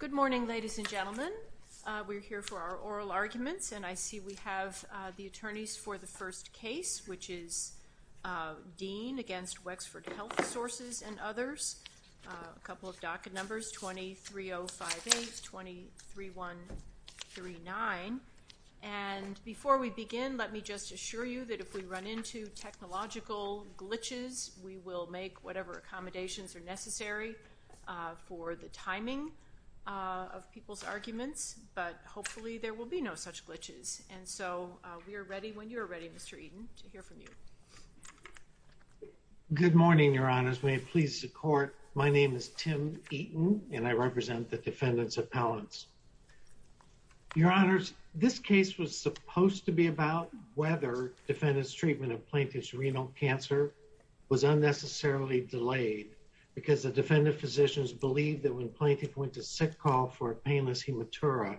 Good morning ladies and gentlemen. We're here for our oral arguments and I see we have the attorneys for the first case which is Dean against Wexford Health Sources and others. A couple of docket numbers 23058, 23139 and before we begin let me just assure you that if we run into technological glitches we will make whatever accommodations are necessary for the timing of people's arguments but hopefully there will be no such glitches and so we are ready when you're ready Mr. Eaton to hear from you. Good morning your honors may please support my name is Tim Eaton and I represent the defendants appellants. Your honors this case was supposed to be about whether defendants treatment of plaintiff's renal cancer was unnecessarily delayed because the defendant physicians believe that when plaintiff went to sick call for a painless hematura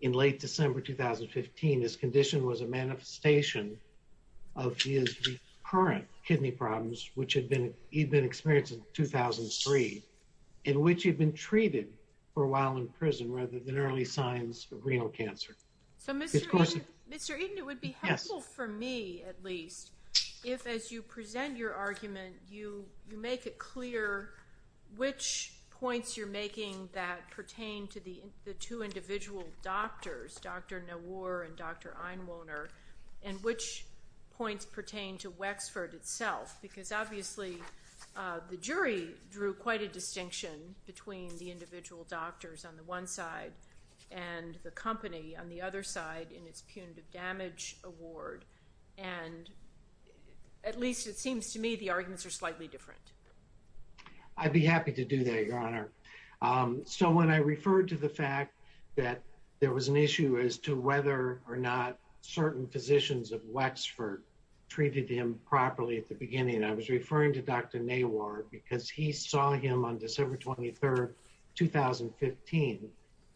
in late December 2015 this condition was a manifestation of his current kidney problems which had been he'd been experienced in 2003 in which he had been treated for a while in prison rather than early signs of renal cancer. Mr. Eaton it would be helpful for me at least if as you present your argument you make it clear which points you're making that pertain to the two individual doctors Dr. Nowar and Dr. Einwohner and which points pertain to Wexford itself because obviously the jury drew quite a distinction between the individual doctors on the one side and the company on the other side in its punitive damage award and at least it seems to me the arguments are slightly different. I'd be happy to do that your honor so when I referred to the fact that there was an issue as to whether or not certain physicians of Wexford treated him properly at the beginning I was referring to Dr. Nowar because he saw him on December 23rd 2015.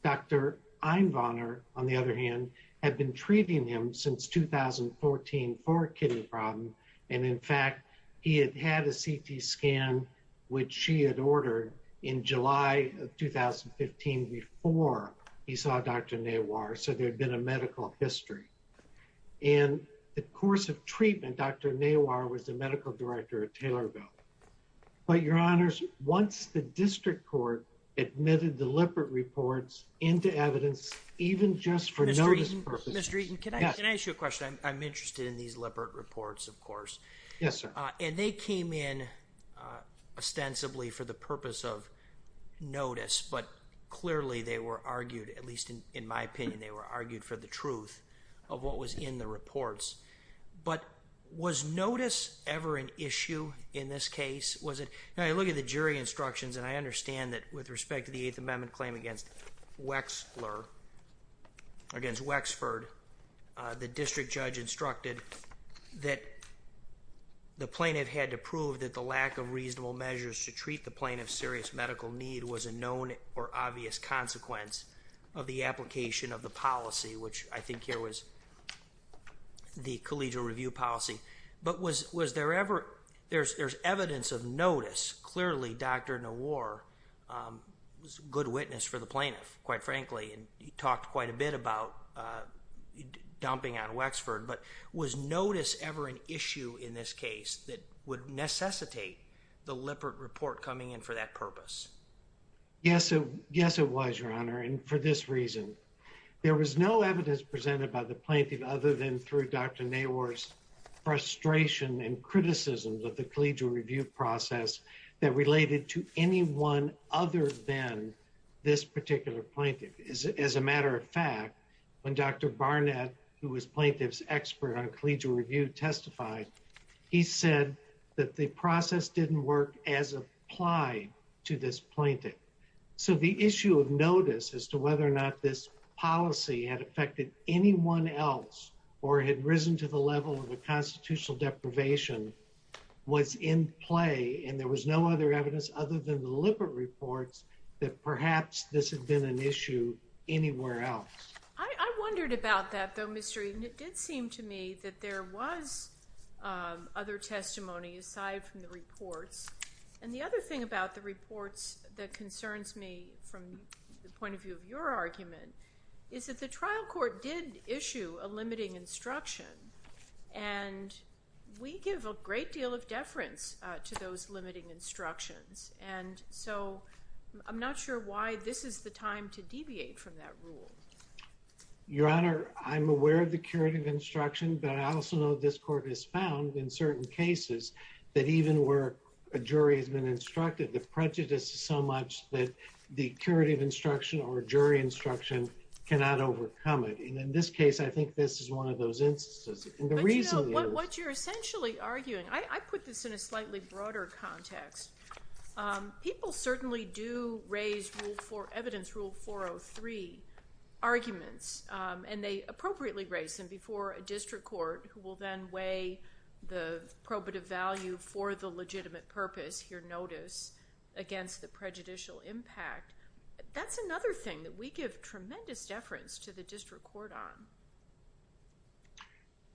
Dr. Einwohner on the other hand had been treating him since 2014 for a kidney problem and in fact he had had a CT scan which she had ordered in July of 2015 before he saw Dr. Nowar so there had been a medical history and the course of treatment Dr. Nowar was the medical director at Taylorville but your honors once the Mr. Eaton, can I ask you a question? I'm interested in these Lippert reports of course. Yes sir. And they came in ostensibly for the purpose of notice but clearly they were argued at least in my opinion they were argued for the truth of what was in the reports but was notice ever an issue in this case was it now I look at the jury instructions and I understand that with respect to the against Wexford the district judge instructed that the plaintiff had to prove that the lack of reasonable measures to treat the plaintiff serious medical need was a known or obvious consequence of the application of the policy which I think here was the collegial review policy but was was there ever there's there's evidence of notice clearly Dr. Nowar was a good bit about dumping out of Wexford but was notice ever an issue in this case that would necessitate the Lippert report coming in for that purpose? Yes yes it was your honor and for this reason there was no evidence presented by the plaintiff other than through Dr. Nowar's frustration and criticism of the collegial review process that related to anyone other than this particular plaintiff is as a matter of fact when Dr. Barnett who was plaintiff's expert on collegial review testified he said that the process didn't work as applied to this plaintiff so the issue of notice as to whether or not this policy had affected anyone else or had risen to the level of the constitutional deprivation was in play and there was no other evidence other than the Lippert reports that perhaps this has been an issue anywhere else. I wondered about that though Mr. Eden it did seem to me that there was other testimony aside from the report and the other thing about the reports that concerns me from the point of view of your argument is that the trial court did issue a limiting instruction and we give a great deal of deference to those limiting instructions and so I'm not sure why this is the time to deviate from that rule. Your honor I'm aware of the curative instruction but I also know this court has found in certain cases that even where a jury has been instructed the prejudice so much that the curative instruction or jury instruction cannot overcome it and in this case I think this is one of those instances. What you're essentially arguing I put this in a slightly broader context people certainly do raise for evidence rule 403 arguments and they appropriately raise them before a district court who will then weigh the probative value for the legitimate purpose your notice against the prejudicial impact that's another thing that we give tremendous deference to the district court on.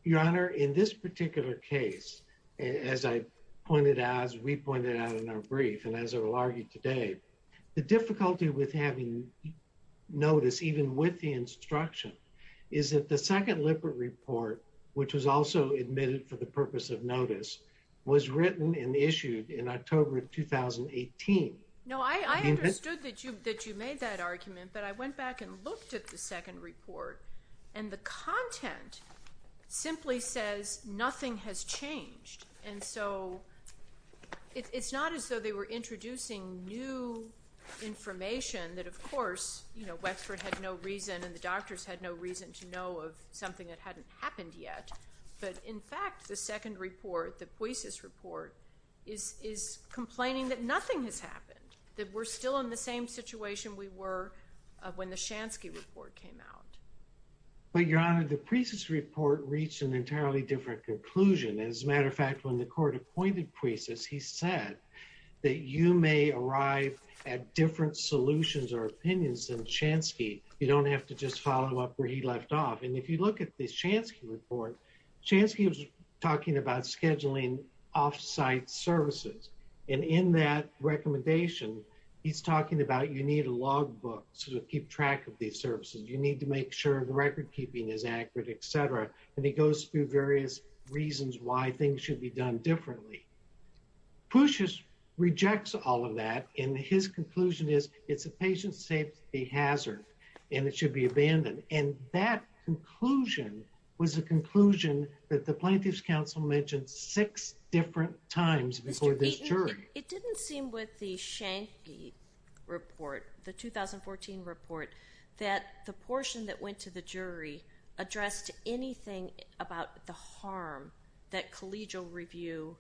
Your honor in this particular case as I pointed out as we pointed out in our brief and as I will argue today the difficulty with having notice even with the instruction is that the second liquid report which was also admitted for the purpose of notice was written and issued in October of 2018. No I understood that you that you made that argument but I went back and looked at the second report and the nothing has changed and so it's not as though they were introducing new information that of course you know Westford had no reason and the doctors had no reason to know of something that hadn't happened yet but in fact the second report the poises report is complaining that nothing has happened that we're still in the same situation we were when the Shansky report came out. But your honor the poises report reached an entirely different conclusion as a matter of fact when the court appointed poises he said that you may arrive at different solutions or opinions than Shansky you don't have to just follow up where he left off and if you look at this Shansky report Shansky was talking about scheduling off-site services and in that recommendation he's talking about you need a logbook to keep track of these services you need to make sure the record-keeping is accurate etc and he goes through various reasons why things should be done differently. Poises rejects all of that in his conclusion is it's a patient safety hazard and it should be abandoned and that conclusion was a conclusion that the plaintiffs counsel mentioned six different times before this jury. It didn't seem with the Shansky report the 2014 report that the jury addressed anything about the harm that collegial review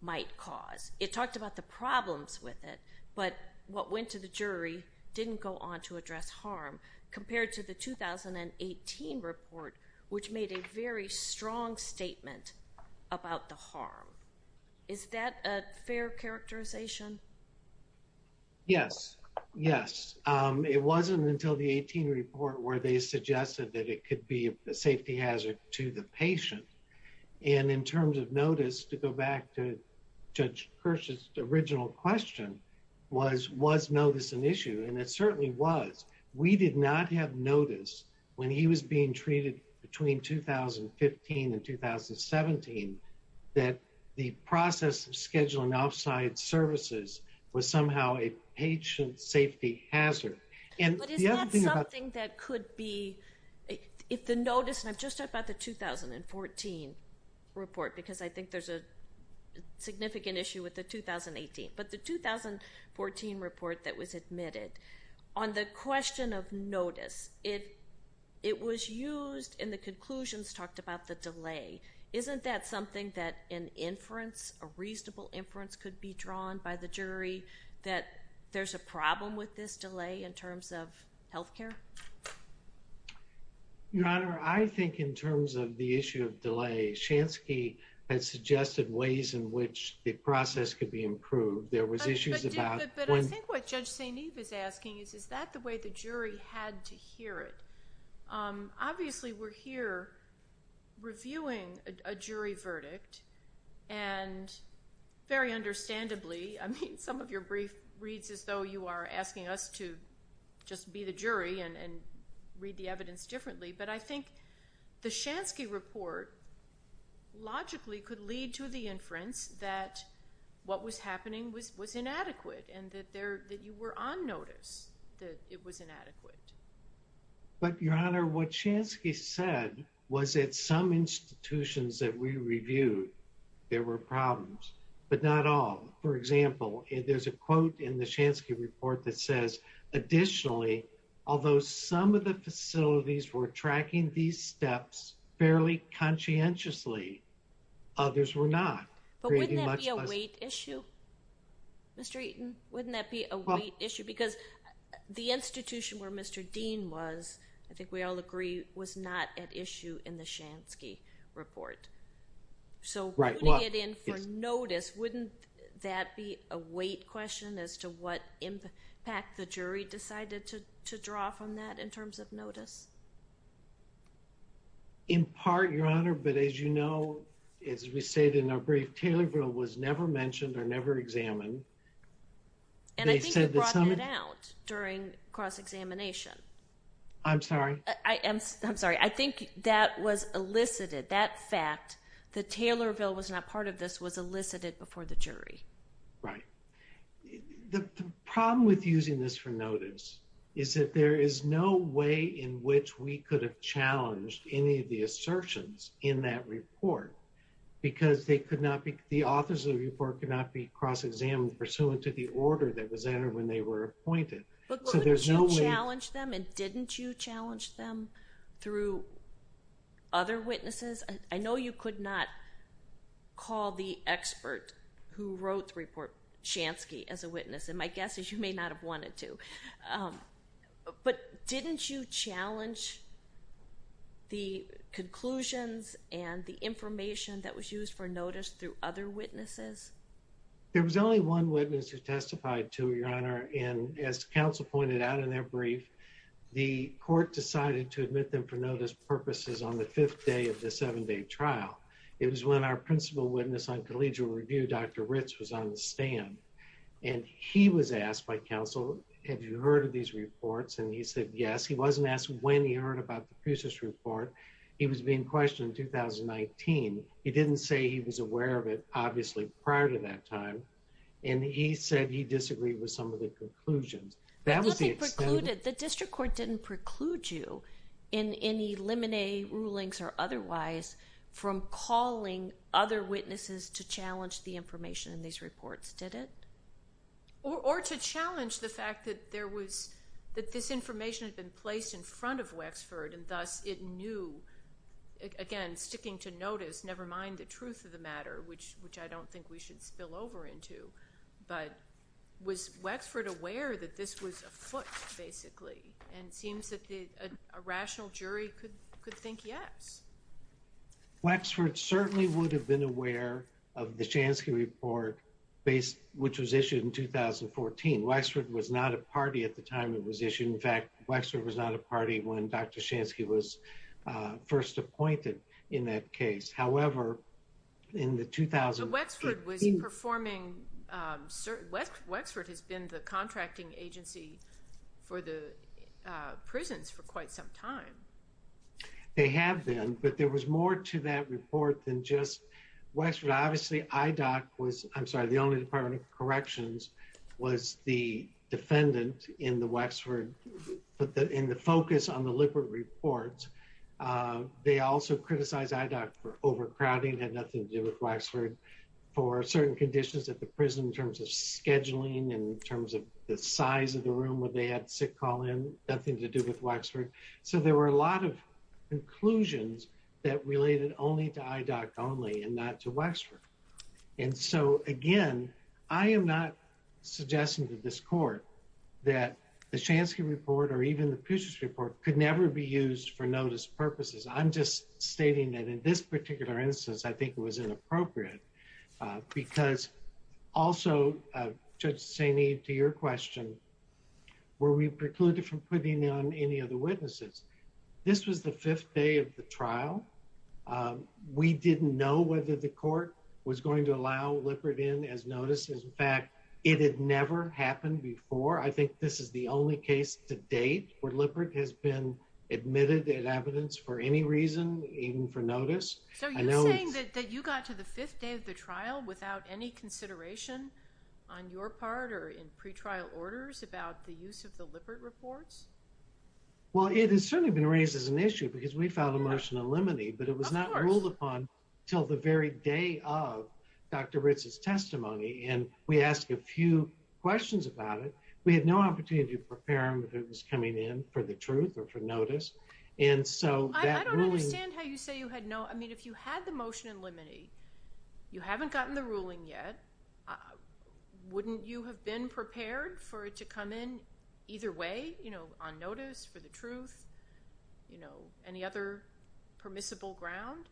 might cause. It talked about the problems with it but what went to the jury didn't go on to address harm compared to the 2018 report which made a very strong statement about the harm. Is that a fair characterization? Yes yes it wasn't until the 18 report where they suggested that it could be a safety hazard to the patient and in terms of notice to go back to Judge Kirsch's original question was was notice an issue and it certainly was. We did not have notice when he was being treated between 2015 and 2017 that the process of scheduling off-site services was somehow a patient safety hazard. It's a notice and just about the 2014 report because I think there's a significant issue with the 2018 but the 2014 report that was admitted on the question of notice it it was used in the conclusions talked about the delay isn't that something that an inference a jury that there's a problem with this delay in terms of health care? Your honor I think in terms of the issue of delay Shansky has suggested ways in which the process could be improved. There was issues about what Judge St. Eve is asking is that the way the jury had to hear it? Obviously we're here reviewing a some of your brief reads as though you are asking us to just be the jury and read the evidence differently but I think the Shansky report logically could lead to the inference that what was happening with was inadequate and that there that you were on notice that it was inadequate. But your honor what Shansky said was that some institutions that we reviewed there were problems but not all. For example if there's a quote in the Shansky report that says additionally although some of the facilities were tracking these steps fairly conscientiously others were not. But wouldn't that be a weight issue? Mr. Eaton wouldn't that be a weight issue because the institution where Mr. Dean was I think we all agree was not an issue in the Shansky report. So wouldn't that be a weight question as to what impact the jury decided to draw from that in terms of notice? In part your honor but as you know as we say in our brief Taylorville was never mentioned or never examined. And I think you brought that out during cross-examination. I'm sorry. I'm sorry I think that was elicited that fact that Taylorville was not part of this was elicited before the jury. Right. The problem with using this for notice is that there is no way in which we could have challenged any of the assertions in that report because they could not be the authors of the report could not be cross-examined pursuant to the order that was entered when they were appointed. But you challenged them and didn't you challenge them through other witnesses? I know you could not call the expert who wrote the report Shansky as a witness and my guess is you may not have wanted to. But didn't you challenge the conclusions and the information that was used for notice through other witnesses? There was only one witness who testified to your honor and as counsel pointed out in their brief the court decided to admit them for notice purposes on the fifth day of the seven-day trial. It was when our principal witness on collegial review Dr. Ritz was on the stand and he was asked by counsel have you heard of these reports and he said yes. He wasn't asked when he heard about the Pucic report. He was being questioned in 2019. He didn't say he was aware of it obviously prior to that time and he said he disagreed with some of the conclusions. The district court didn't preclude you in any limine rulings or otherwise from calling other witnesses to challenge the information in these reports did it? Or to challenge the fact that there was that this information has been placed in front of Westford and thus it knew again sticking to notice never mind the truth of the matter which which I don't think we should spill over into. But was Westford aware that this was a foot basically and seems that the rational jury could think yes. Westford certainly would have been aware of the Shansky report based which was issued in 2014. Westford was not a party at the time it was issued. In fact Westford was not a party when Dr. Shansky was first appointed in that case. However in the 2000s. Westford has been the contracting agency for the prisons for quite some time. They have been but there was more to that report than just Westford. Obviously IDOC was I'm sorry the only Department of Corrections was the focus on the Lippert reports. They also criticized IDOC for overcrowding and nothing to do with Westford for certain conditions at the prison in terms of scheduling and in terms of the size of the room would they have to call in nothing to do with Westford. So there were a lot of conclusions that related only to IDOC only and not to Westford. And so again I am NOT suggesting to this court that the Shansky report or even the Puget Report could never be used for notice purposes. I'm just stating that in this particular instance I think it was inappropriate because also just saying to your question were we precluded from putting on any of the witnesses. This was the fifth day of the trial. We didn't know whether the court was going to allow Lippert in as notices. In fact it never happened before. I think this is the only case to date where Lippert has been admitted as evidence for any reason even for notice. So you're saying that you got to the fifth day of the trial without any consideration on your part or in pretrial orders about the use of the Lippert reports? Well it has certainly been raised as an issue because we filed a Martial Limony but it was not ruled upon till the very day of Dr. Ritz's testimony and we asked a few questions about it. We had no opportunity to prepare him if it was coming in for the truth or for notice and so... I don't understand how you say you had no... I mean if you had the motion in limony, you haven't gotten the ruling yet, wouldn't you have been prepared for it to come in either way? You know on notice, for the truth, you know any other permissible ground?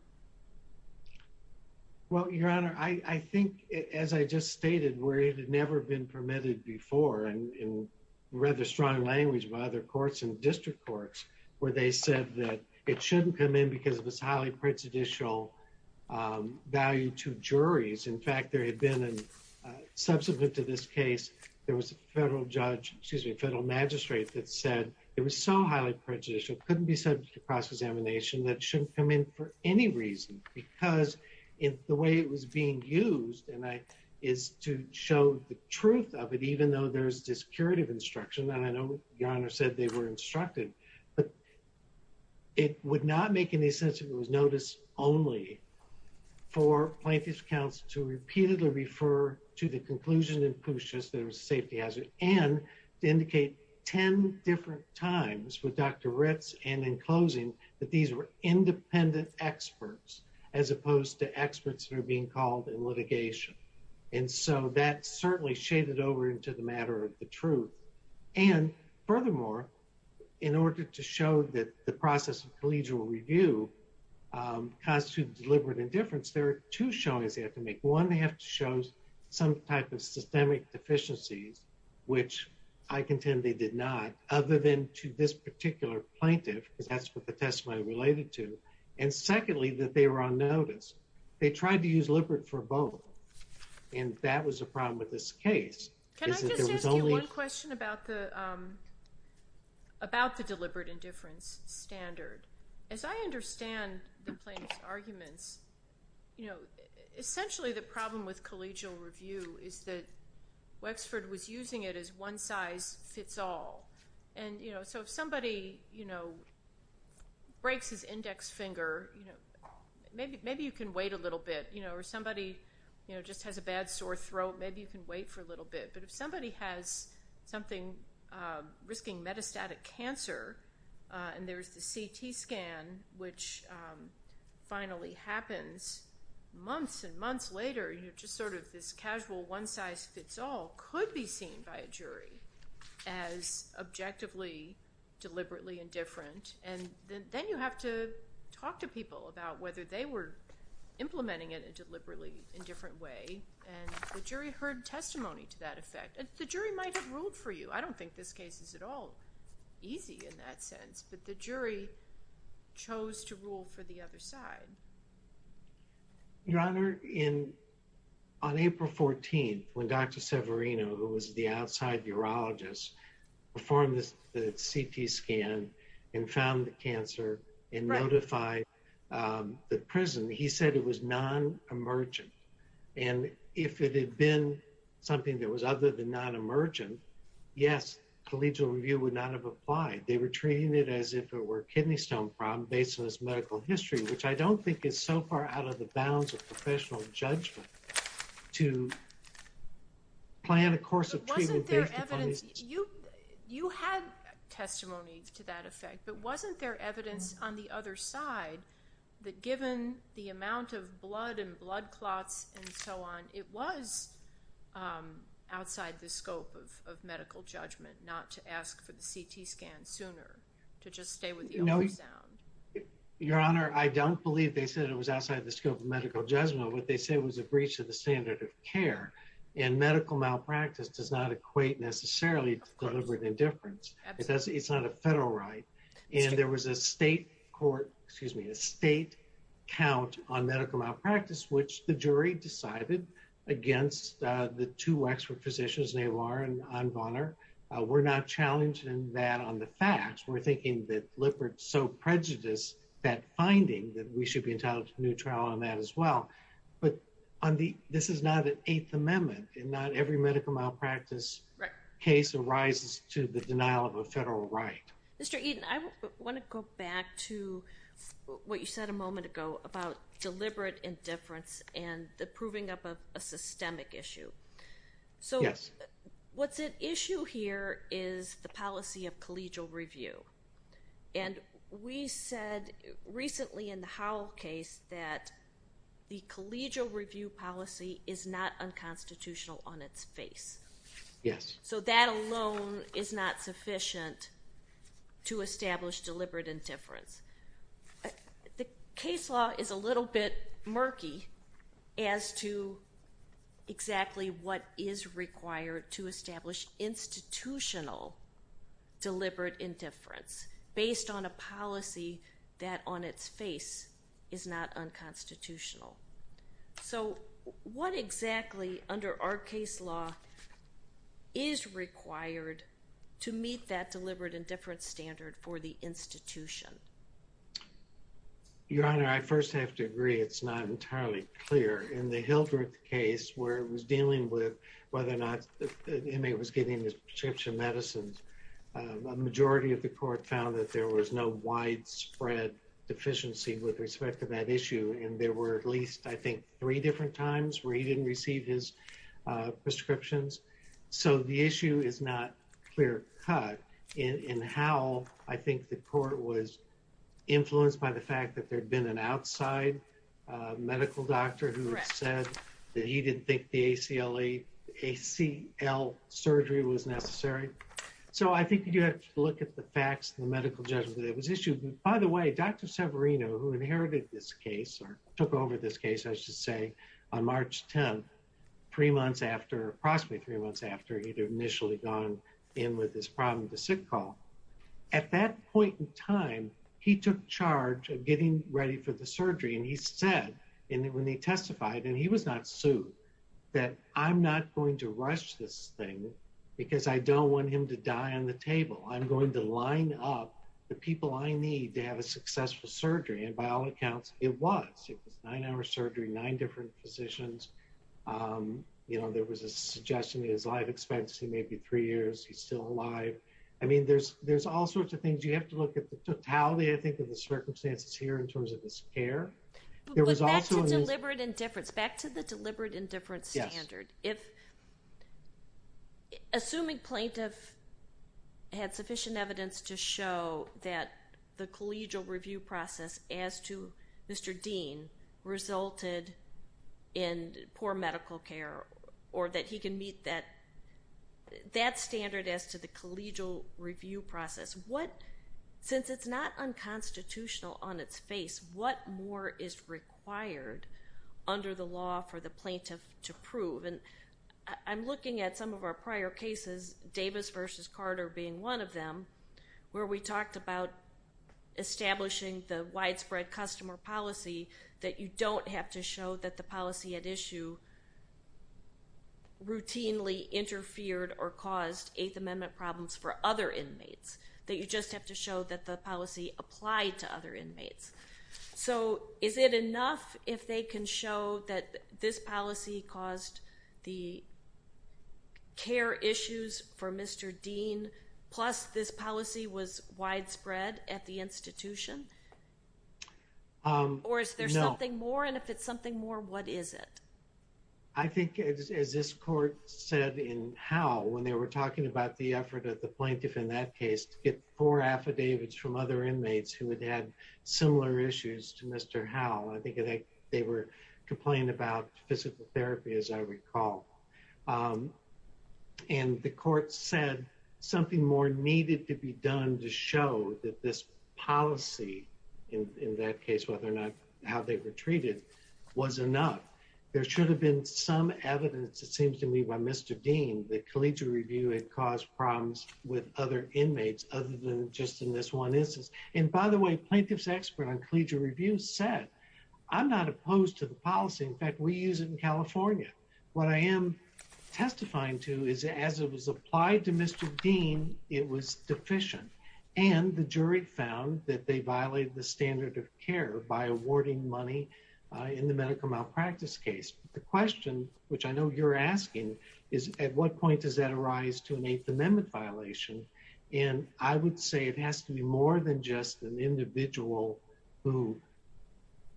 Well Your Honor, I think as I just stated where it had never been permitted before and read the strong language of other courts and district courts where they said that it shouldn't come in because of this highly prejudicial value to juries. In fact there had been a subsequent to this case there was a federal judge, excuse me, a federal magistrate that said it was so prejudicial couldn't be subject to cross-examination that shouldn't come in for any reason because if the way it was being used and that is to show the truth of it even though there's this curative instruction that I know Your Honor said they were instructed but it would not make any sense if it was notice only for plaintiff's counsel to repeatedly refer to the conclusion and conclusions that it was a different times with Dr. Ritz and in closing that these were independent experts as opposed to experts that are being called in litigation and so that certainly shaded over into the matter of the truth and furthermore in order to show that the process of collegial review constitutes deliberate indifference there are two showings they have to make. One they have to show some type of other than to this particular plaintiff that's what the testimony related to and secondly that they were on notice. They tried to use lipid for both and that was a problem with this case. Can I just ask you a question about the deliberate indifference standard. As I understand the plaintiff's arguments you know essentially the problem with collegial review is that Wexford was using it as one size fits all and you know so if somebody you know breaks his index finger you know maybe maybe you can wait a little bit you know or somebody you know just has a bad sore throat maybe you can wait for a little bit but if somebody has something risking metastatic cancer and there's the CT scan which finally happens months and casual one-size-fits-all could be seen by a jury as objectively deliberately indifferent and then you have to talk to people about whether they were implementing it and deliberately in different way and the jury heard testimony to that effect. The jury might have ruled for you I don't think this case is at all easy in that sense but the jury chose to rule for the other side. Your Honor, on April 14th when Dr. Severino who was the outside urologist performed the CT scan and found the cancer and notified the prison he said it was non-emergent and if it had been something that was other than non-emergent yes collegial review would not have applied. They were treating it as if it were kidney stone problem based on medical history which I don't think it's so far out of the bounds of professional judgment to plan a course of treatment. You have testimony to that effect but wasn't there evidence on the other side that given the amount of blood and blood clots and so on it was outside the scope of medical judgment not to ask for the CT scan sooner. Your Honor, I don't believe they said it was outside the scope of medical judgment what they said was a breach of the standard of care and medical malpractice does not equate necessarily with indifference because it's not a federal right and there was a state court excuse me a state count on medical malpractice which the jury decided against the two expert physicians they were and I'm Bonner we're not challenging that on the facts we're thinking that Lippert so prejudiced that finding that we should be entitled to new trial on that as well but on the this is not an Eighth Amendment and not every medical malpractice case arises to the denial of a federal right. Mr. Eaton, I want to go back to what you said a moment ago about proving up a systemic issue so what's at issue here is the policy of collegial review and we said recently in the Howell case that the collegial review policy is not unconstitutional on its face yes so that alone is not sufficient to to exactly what is required to establish institutional delivered indifference based on a policy that on its face is not unconstitutional so what exactly under our case law is required to meet that delivered indifference standard for the institution? Your Honor, I first have to agree it's not entirely clear in the Hilbert case where it was dealing with whether or not the inmate was getting his prescription medicines a majority of the court found that there was no widespread deficiency with respect to that issue and there were at least I think three different times where he didn't receive his prescriptions so the issue is not clear-cut in Howell I think the court was influenced by the doctor who said that he didn't think the ACL surgery was necessary so I think you have to look at the facts in the medical judgment it was issued by the way Dr. Severino who inherited this case or took over this case I should say on March 10th three months after approximately three months after he'd initially gone in with this problem the sick call at that point in time he took charge of getting ready for the surgery and he said and when he testified and he was not sued that I'm not going to rush this thing because I don't want him to die on the table I'm going to line up the people I need to have a successful surgery and by all accounts it was nine hour surgery nine different positions you know there was a suggestion as I've expected maybe three years he's still alive I mean there's there's all sorts of things you have to look at the circumstances here in terms of this care there was also a deliberate indifference back to the deliberate indifference standards if assuming plaintiffs had sufficient evidence to show that the collegial review process as to mr. Dean resulted in poor medical care or that he can meet that that standard as to the collegial review process what since it's not unconstitutional on its face what more is required under the law for the plaintiffs to prove and I'm looking at some of our prior cases Davis versus Carter being one of them where we talked about establishing the widespread customer policy that you don't have to show that the policy at issue routinely interfered or caused eighth amendment problems for other inmates that you just have to show that the policy applied to other inmates so is it enough if they can show that this policy caused the care issues for mr. Dean plus this policy was widespread at the institution or if there's nothing more and if it's something more what is it I think as this court said in how when they were affidavits from other inmates who had had similar issues to mr. how I think they were complained about physical therapy as I recall and the court said something more needed to be done to show that this policy in that case whether or not how they were treated was enough there should have been some evidence it seems to me by mr. Dean the collegial review it caused problems with other inmates other than just in this one instance and by the way plaintiff's expert on collegial review said I'm not opposed to the policy in fact we use it in California what I am testifying to is as it was applied to mr. Dean it was deficient and the jury found that they violated the standard of care by awarding money in the medical malpractice case the question which I know you're asking is at what point does that arise to an eighth amendment violation and I would say it has to be more than just an individual who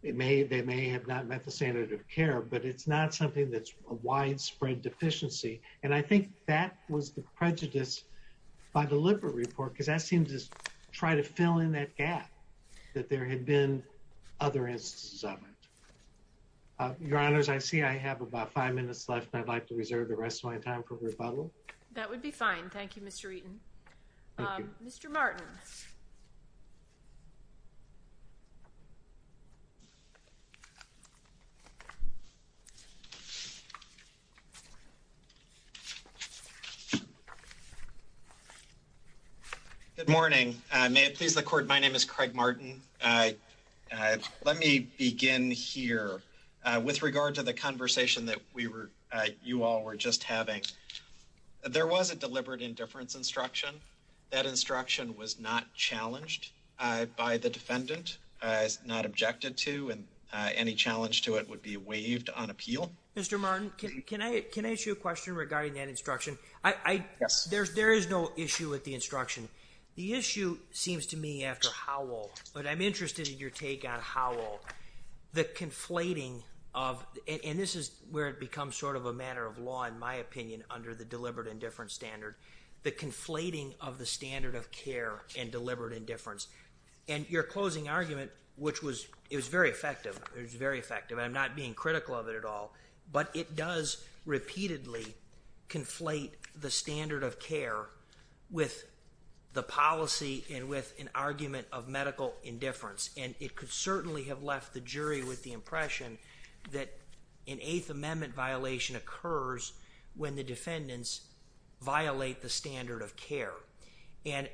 it may they may have not met the standard of care but it's not something that's a widespread deficiency and I think that was the prejudice by the liver report because that seems to try to fill in that gap that there had been other instances of it your honors I see I have about five minutes left I'd like to fine Thank You mr. Eaton mr. Martin good morning may it please the court my name is Craig Martin I let me begin here with regard to the conversation that we were you all were just having there was a deliberate indifference instruction that instruction was not challenged by the defendant not objected to and any challenge to it would be waived on appeal mr. Martin can I can I issue a question regarding that instruction I guess there's there is no issue with the instruction the issue seems to me after Howell but I'm interested in your take on Howell the conflating of and this is where it becomes sort of a matter of law in my opinion under the deliberate indifference standard but conflating of the standard of care and deliberate indifference and your closing argument which was it was very effective it was very effective I'm not being critical of it at all but it does repeatedly conflate the standard of care with the policy and with an argument of medical indifference and it could certainly have left the jury with the impression that an Eighth Amendment violation occurs when the defendants violate the standard of care and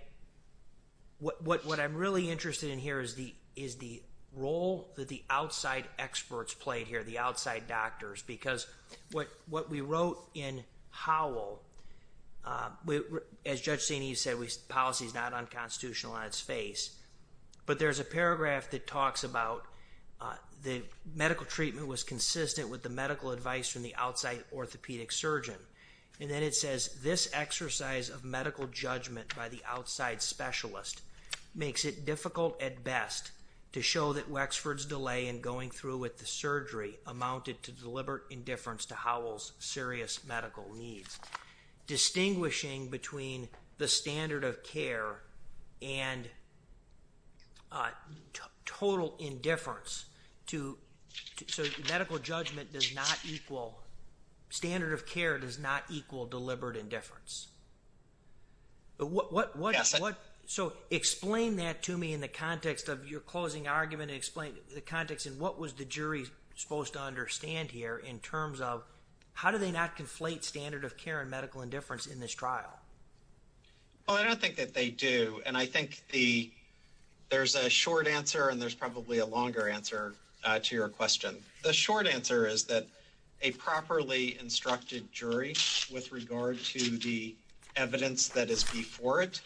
what what I'm really interested in here is the is the role that the outside experts play here the outside doctors because what what we wrote in Howell we as judge Saney said we policies not on constitutional on its face but there's a paragraph that talks about the medical treatment was consistent with the medical advice from the outside orthopedic surgeon and then it says this exercise of medical judgment by the outside specialist makes it difficult at best to show that Wexford's delay in going through with the surgery amounted to deliberate indifference to Howell's serious medical needs distinguishing between the standard of care and total indifference to medical judgment does not equal standard of care does not equal deliberate indifference but what what what so explain that to me in the context of your closing argument explain the context and what was the jury supposed to understand here in terms of how do they not conflate standard of care and medical indifference in this trial oh I don't think that they do and I think the there's a short answer and there's probably a longer answer to your question the short answer is that a properly instructed jury with regard to the evidence that is before it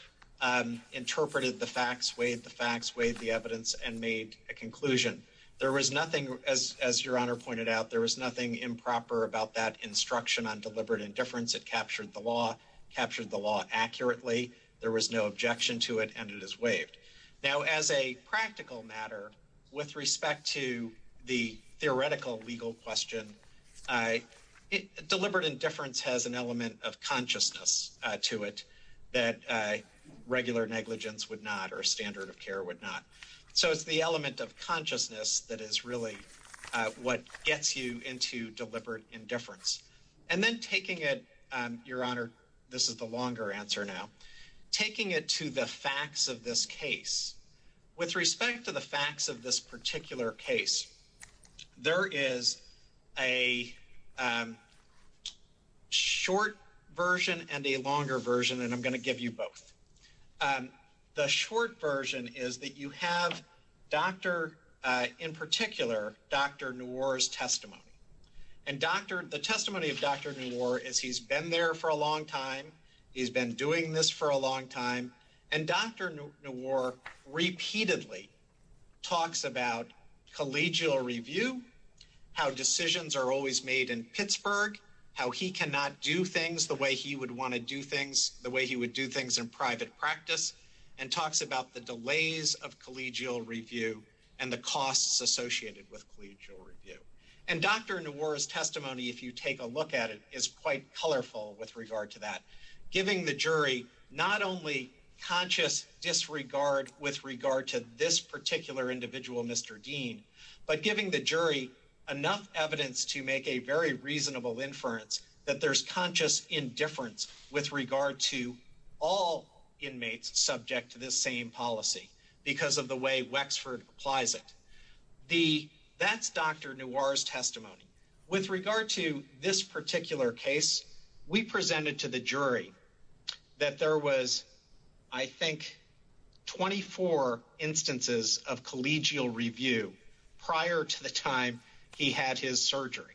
interpreted the facts weighed the facts weighed the evidence and made a conclusion there was nothing as your honor pointed out there was nothing improper about that instruction on deliberate indifference it captured the law captured the law accurately there was no objection to it and it is waived now as a practical matter with respect to the theoretical legal question I deliberate indifference has an element of consciousness to it that regular negligence would not or a standard of care would not so it's the element of consciousness that is really what gets you into deliberate indifference and then taking it your honor this is the to the facts of this case with respect to the facts of this particular case there is a short version and a longer version and I'm going to give you both the short version is that you have dr. in particular dr. Newar's testimony and dr. the testimony of dr. Newar as he's been there for a long time he's been doing this for a long time and dr. Newar repeatedly talks about collegial review how decisions are always made in Pittsburgh how he cannot do things the way he would want to do things the way he would do things in private practice and talks about the delays of collegial review and the costs associated with collegial review and dr. Newar's testimony if you take a look at it is quite colorful with regard to that giving the jury not only conscious disregard with regard to this particular individual mr. Dean but giving the jury enough evidence to make a very reasonable inference that there's conscious indifference with regard to all inmates subject to this same policy because of the way Wexford applies it the that's dr. Newar's testimony with particular case we presented to the jury that there was I think 24 instances of collegial review prior to the time he had his surgery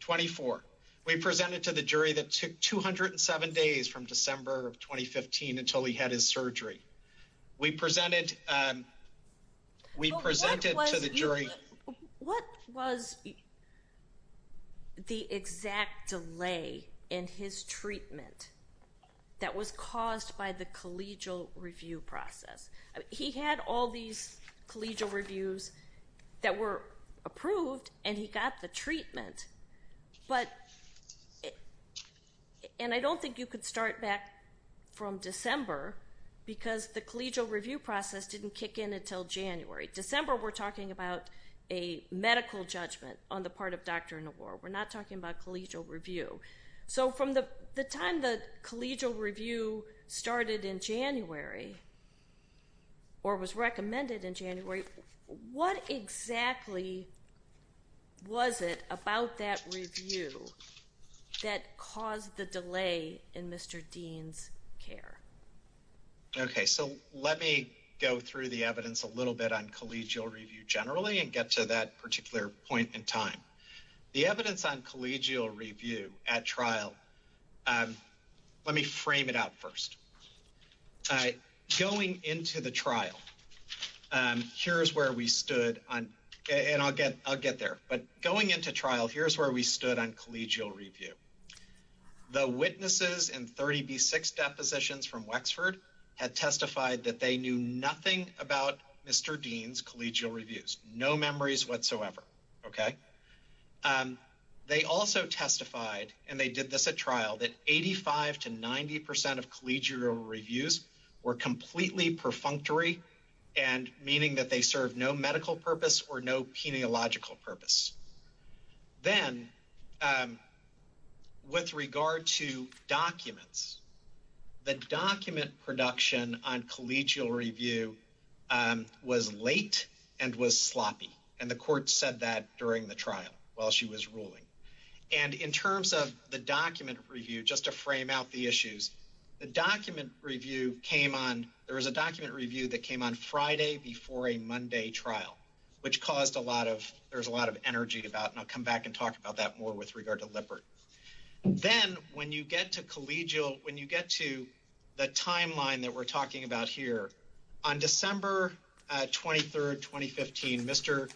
24 we presented to the jury that took 207 days from December of 2015 until he had his surgery we presented we presented to the jury what was the exact delay in his treatment that was caused by the collegial review process he had all these collegial reviews that were approved and he got the treatment but and I don't think you could start back from December because the collegial review process didn't kick in until January December we're talking about a medical judgment on the part of dr. in the war we're not talking about collegial review so from the time the collegial review started in January or was recommended in January what exactly was it about that review that caused the delay in mr. Dean's care okay so let me go through the evidence a little bit on collegial review generally and get to that particular point in time the evidence on collegial review at trial let me frame it out first all right going into the trial and here's where we stood on and I'll get I'll get there but going into trial here's where we stood on collegial review the witnesses and 30b6 depositions from Wexford had testified that they knew nothing about mr. Dean's collegial reviews no memories whatsoever okay they also testified and they did this at trial that 85 to 90 percent of collegial reviews were completely perfunctory and meaning that they serve no medical purpose or no peniological purpose then with regard to documents the document production on collegial review was late and was sloppy and the court said that during the trial while she was ruling and in terms of the document review just to frame out the issues the document review came on there was a document review that came on Friday before a Monday trial which caused a lot of there's a lot of energy about and I'll come back and talk about that more with regard to Lippert then when you get to collegial when you get to the timeline that we're talking about here on December 23rd 2015 mr.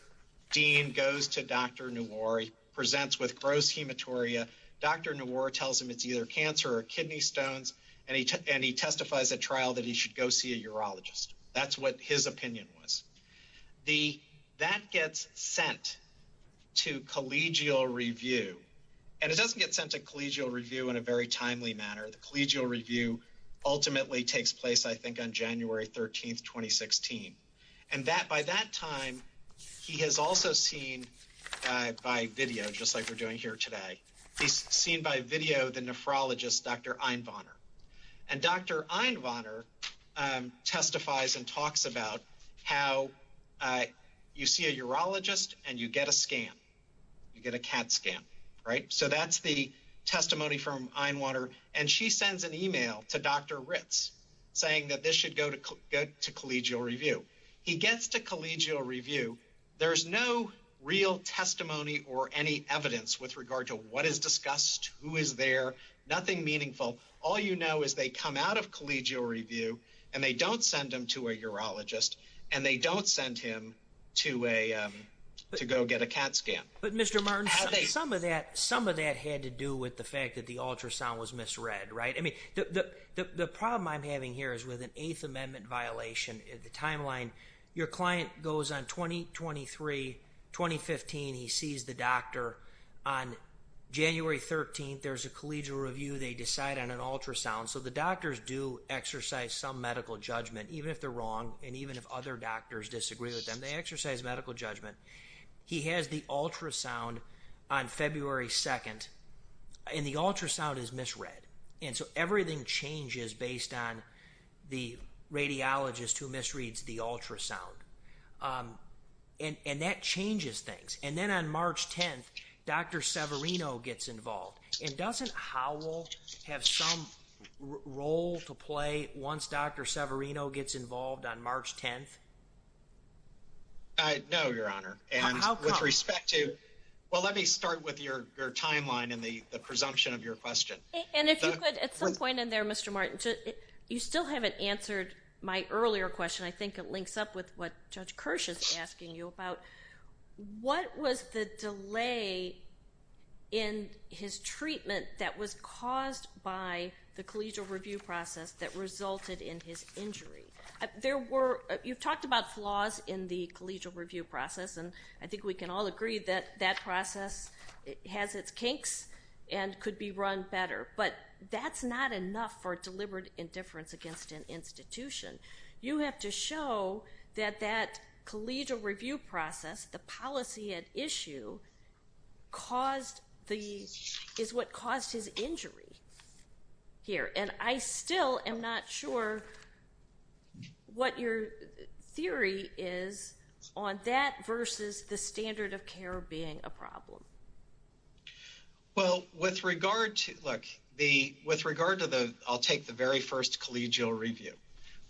Dean goes to dr. new or he presents with gross hematuria dr. new or tells him that dealer cancer or kidney stones and he took and he testifies at trial that he should go see a urologist that's what his opinion was the that gets sent to collegial review and it doesn't get sent to collegial review in a very timely manner the collegial review ultimately takes place I think on January 13th 2016 and that by that time he has also seen by video just like we're doing here today he's seen by video the nephrologist dr. Einbacher and dr. Einbacher testifies and talks about how I you see a urologist and you get a and she sends an email to dr. Ritz saying that this should go to get to collegial review he gets to collegial review there's no real testimony or any evidence with regard to what is discussed who is there nothing meaningful all you know is they come out of collegial review and they don't send them to a urologist and they don't send him to a to go get a CAT scan but mr. Martin how they some of that some of that had to do with the fact that the ultrasound was misread right I mean the problem I'm having here is with an 8th amendment violation in the timeline your client goes on 2023 2015 he sees the doctor on January 13th there's a collegial review they decide on an ultrasound so the doctors do exercise some medical judgment even if they're wrong and even if other doctors disagree with them they exercise medical judgment he has the ultrasound on February 2nd and the ultrasound is misread and so everything changes based on the radiologist who misreads the ultrasound and and that changes things and then on March 10th dr. Severino gets involved and doesn't Howell have some role to play once dr. Severino gets involved on March 10th I know your honor and with respect to well let me start with your timeline and the presumption of your question and if you could at some point in there mr. Martin you still haven't answered my earlier question I think it links up with what judge Kirsch is asking you about what was the delay in his treatment that was caused by the collegial review process that resulted in his injury there were you've talked about flaws in the collegial review process and I think we can all agree that that process it has its kinks and could be run better but that's not enough for deliberate indifference against an institution you have to show that that collegial review process the policy at issue caused the is what caused his injury here and I still am not sure what your theory is on that versus the standard of care being a problem well with regard to look the with regard to the I'll take the very first collegial review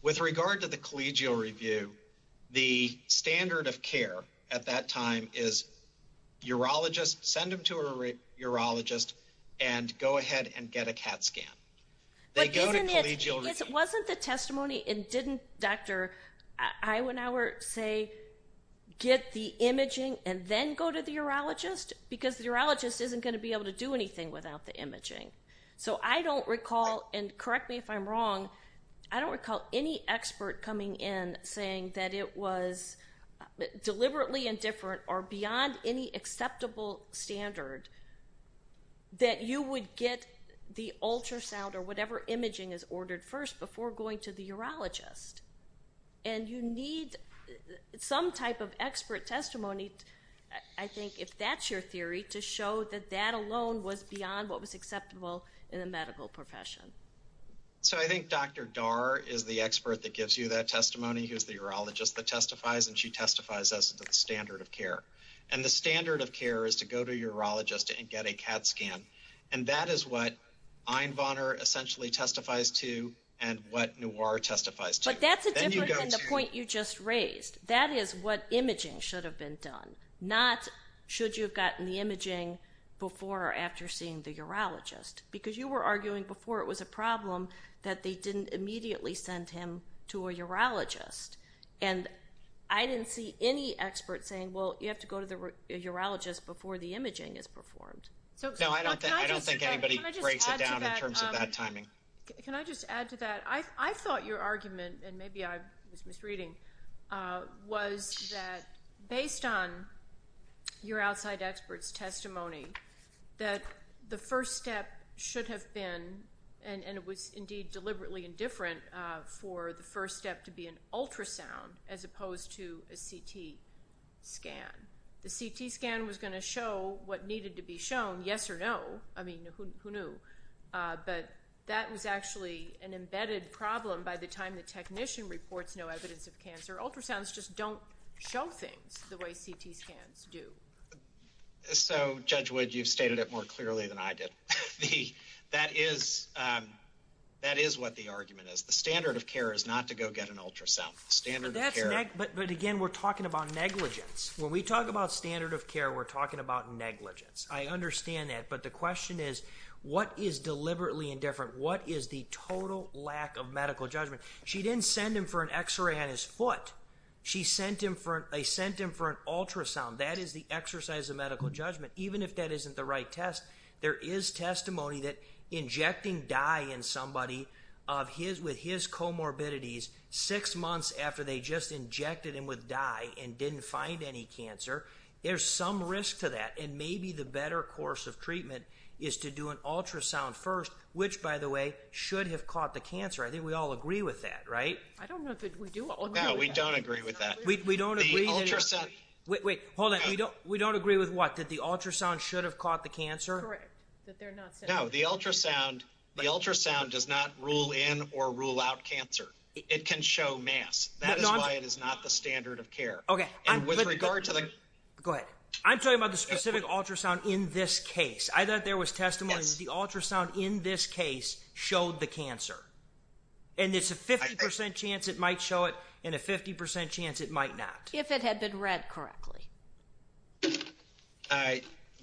with regard to the collegial review the standard of care at that time is urologist send them to a urologist and go ahead and get a scan wasn't the testimony and didn't doctor I went our say get the imaging and then go to the urologist because the urologist isn't going to be able to do anything without the imaging so I don't recall and correctly if I'm wrong I don't recall any expert coming in saying that it was deliberately indifferent or that you would get the ultrasound or whatever imaging is ordered first before going to the urologist and you need some type of expert testimony I think if that's your theory to show that that alone was beyond what was acceptable in the medical profession so I think dr. Darr is the expert that gives you that testimony here's the urologist that testifies and she testifies as the standard of care and the standard of care is to go to urologist and get a CAT scan and that is what I'm Bonner essentially testifies to and what new are testifies to that's the point you just raised that is what imaging should have been done not should you've gotten the imaging before after seeing the urologist because you were arguing before it was a problem that they didn't immediately send him to a urologist and I didn't see any expert saying well you have to go to the urologist before the imaging is performed I thought your argument and maybe I was misreading was that based on your outside experts testimony that the first step should have been and it was indeed deliberately indifferent for the first step to be an ultrasound as opposed to a CT scan the CT scan was going to show what needed to be shown yes or no I mean who knew but that was actually an embedded problem by the time the technician reports no evidence of cancer ultrasounds just don't show things the way CT scans do so judge would you've stated it more clearly than I did that is that is what the argument is the standard of care is not to go get an ultrasound standard but again we're talking about negligence when we talk about standard of care we're talking about negligence I understand that but the question is what is deliberately indifferent what is the total lack of medical judgment she didn't send him for an x-ray on his foot she sent him for a sent him for an ultrasound that is the exercise of medical judgment even if that isn't the right test there is testimony that injecting dye in somebody of his with his comorbidities six months after they just injected him with dye and didn't find any cancer there's some risk to that and maybe the better course of treatment is to do an ultrasound first which by the way should have caught the cancer I think we all agree with that right we don't agree with that we don't we don't agree with what that the ultrasound should have caught the cancer no the ultrasound the ultrasound does not rule in or rule out cancer it can show mass that is not the standard of care okay with regard to this good I'm talking about the specific ultrasound in this case I thought there was testimony the ultrasound in this case showed the cancer and it's a 50% chance it might show it in a 50% chance it might not if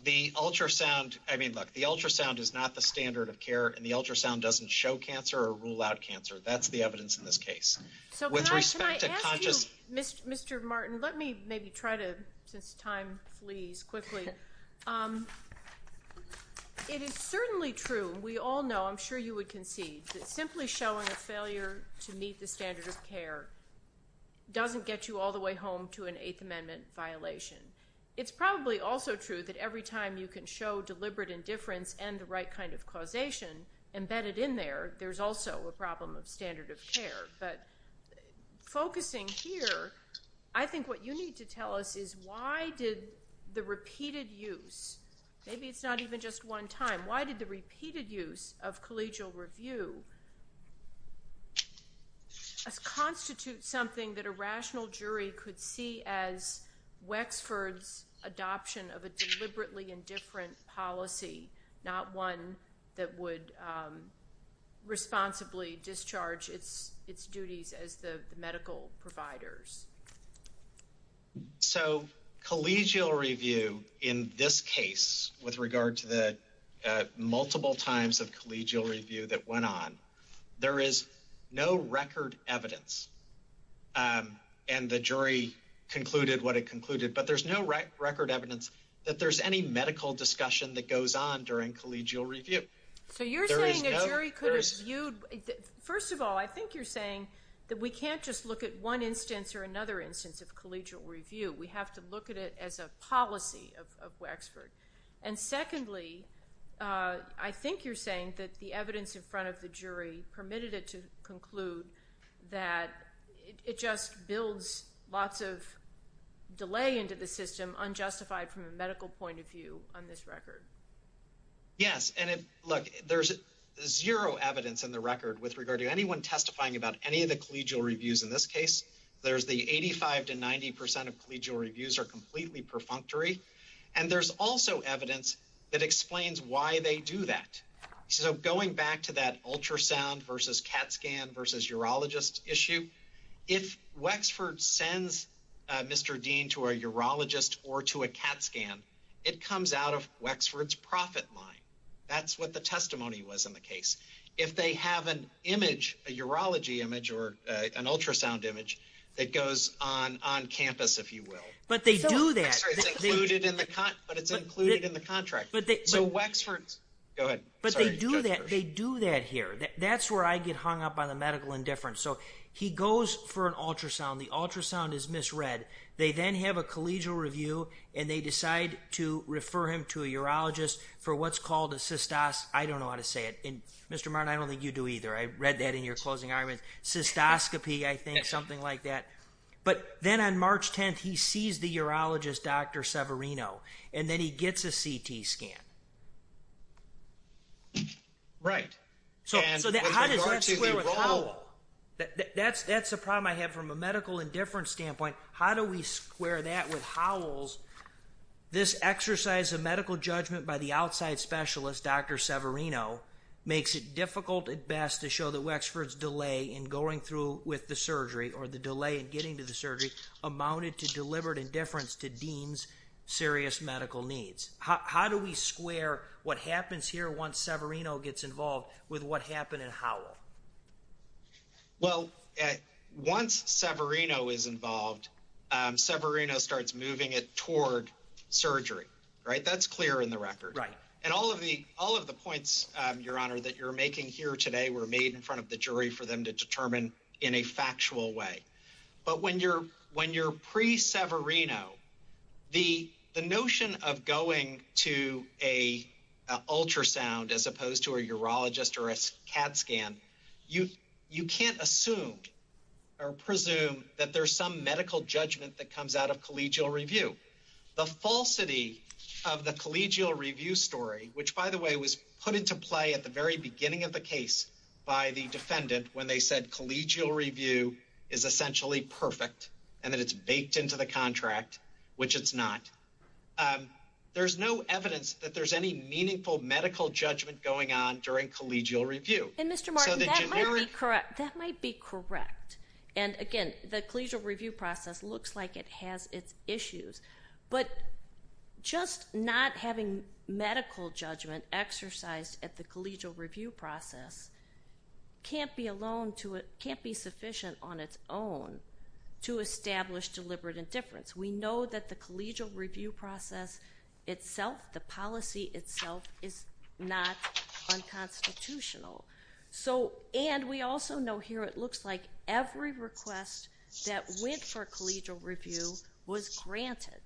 the ultrasound I mean look the ultrasound is not the standard of care and the ultrasound doesn't show cancer or rule out cancer that's the evidence in this case mr. Martin let me maybe try to since time leaves quickly it is certainly true we all know I'm sure you would concede that simply showing a failure to meet the standard of care doesn't get you all the way home to an amendment violation it's probably also true that every time you can show deliberate indifference and the right kind of causation embedded in there there's also a problem of standard of care but focusing here I think what you need to tell us is why did the repeated use maybe it's not even just one time why did the repeated use of collegial review constitute something that a Wexford's adoption of a deliberately indifferent policy not one that would responsibly discharge its duties as the medical providers so collegial review in this case with regard to the multiple times of collegial review that went on there is no record evidence and the jury concluded what it concluded but there's no record evidence that there's any medical discussion that goes on during collegial review so you're very good you first of all I think you're saying that we can't just look at one instance or another instance of collegial review we have to look at it as a policy of Wexford and secondly I the jury permitted it to conclude that it just builds lots of delay into the system unjustified from a medical point of view on this record yes and if look there's zero evidence in the record with regard to anyone testifying about any of the collegial reviews in this case there's the 85 to 90 percent of collegial reviews are completely perfunctory and there's also evidence that explains why they do that so going back to that ultrasound versus cat scan versus urologist issue if Wexford sends mr. Dean to a urologist or to a cat scan it comes out of Wexford's profit line that's what the testimony was in the case if they have an image a urology image or an ultrasound image it goes on campus if you will but they do that but they do that they do that here that's where I get hung up on a medical indifference so he goes for an ultrasound the ultrasound is misread they then have a collegial review and they decide to refer him to a urologist for what's called a cystos I don't know how to say it in mr. Martin I don't think you do either I read that in your closing argument cystoscopy I think something like that but then on March 10th he sees the urologist dr. Severino and then he gets a CT scan right that's that's the problem I have from a medical indifference standpoint how do we square that with howls this exercise of medical judgment by the outside specialist dr. Severino makes it difficult at best to show the Wexford's delay in going through with the surgery or the delay in getting to the surgery amounted to deliberate indifference to deems serious medical needs how do we square what happens here once Severino gets involved with what happened in how well at once Severino is involved Severino starts moving it toward surgery right that's in the record right and all of the all of the points your honor that you're making here today were made in front of the jury for them to determine in a factual way but when you're when you're pre Severino the the notion of going to a ultrasound as opposed to a urologist or a CAD scan you you can't assume or presume that there's some medical judgment that comes out of collegial review the falsity of the collegial review story which by the way was put into play at the very beginning of the case by the defendant when they said collegial review is essentially perfect and that it's baked into the contract which it's not there's no evidence that there's any meaningful medical judgment going on during collegial review and mr. Martin that might be correct and again the collegial review process looks like it has its issues but just not having medical judgment exercised at the collegial review process can't be alone to it can't be sufficient on its own to establish deliberate indifference we know that the collegial review process itself the policy itself is not that went for collegial review was granted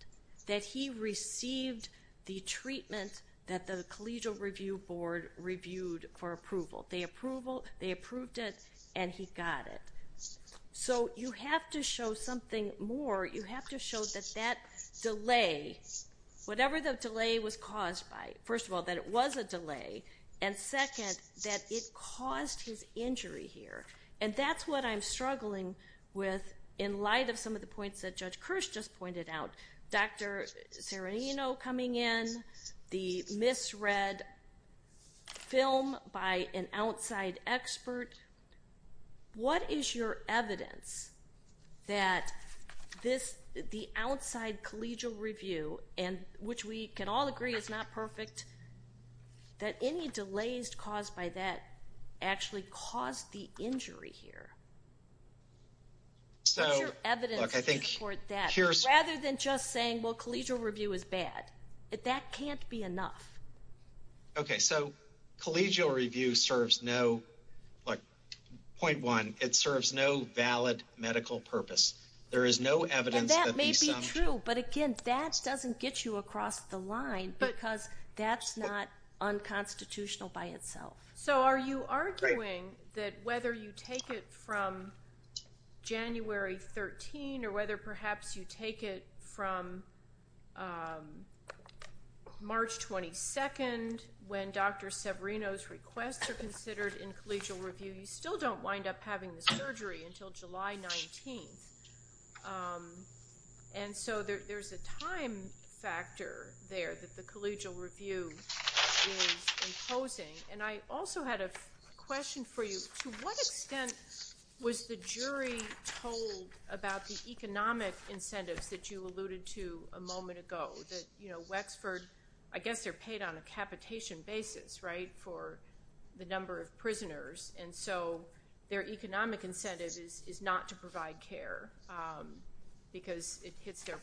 that he received the treatment that the collegial review board reviewed for approval they approval they approved it and he got it so you have to show something more you have to show that that delay whatever the delay was caused by first of all that it was a delay and second that it caused his injury here and that's what I'm in light of some of the points that judge Kirsch just pointed out dr. serrano you know coming in the misread film by an outside expert what is your evidence that this the outside collegial review and which we can all agree it's not perfect that any delays caused by that actually caused the injury here so I think here's rather than just saying well collegial review is bad if that can't be enough okay so collegial review serves no like point one it serves no valid medical purpose there is no evidence that may be true but again that doesn't get you across the line because that's not unconstitutional by so are you arguing that whether you take it from January 13 or whether perhaps you take it from March 22nd when dr. Severino's requests are considered in collegial review you still don't wind up having the surgery until July 19th and so there's a time factor there that the collegial review and I also had a question for you to what extent was the jury told about the economic incentives that you alluded to a moment ago that you know Wexford I guess they're paid on a capitation basis right for the number of prisoners and so their economic incentive is not to provide care because it hits their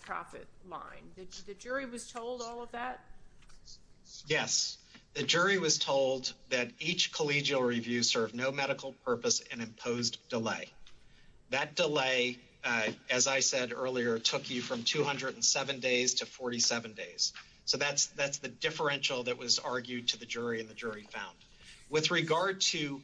each collegial review serve no medical purpose and imposed delay that delay as I said earlier took you from 207 days to 47 days so that's that's the differential that was argued to the jury in the jury found with regard to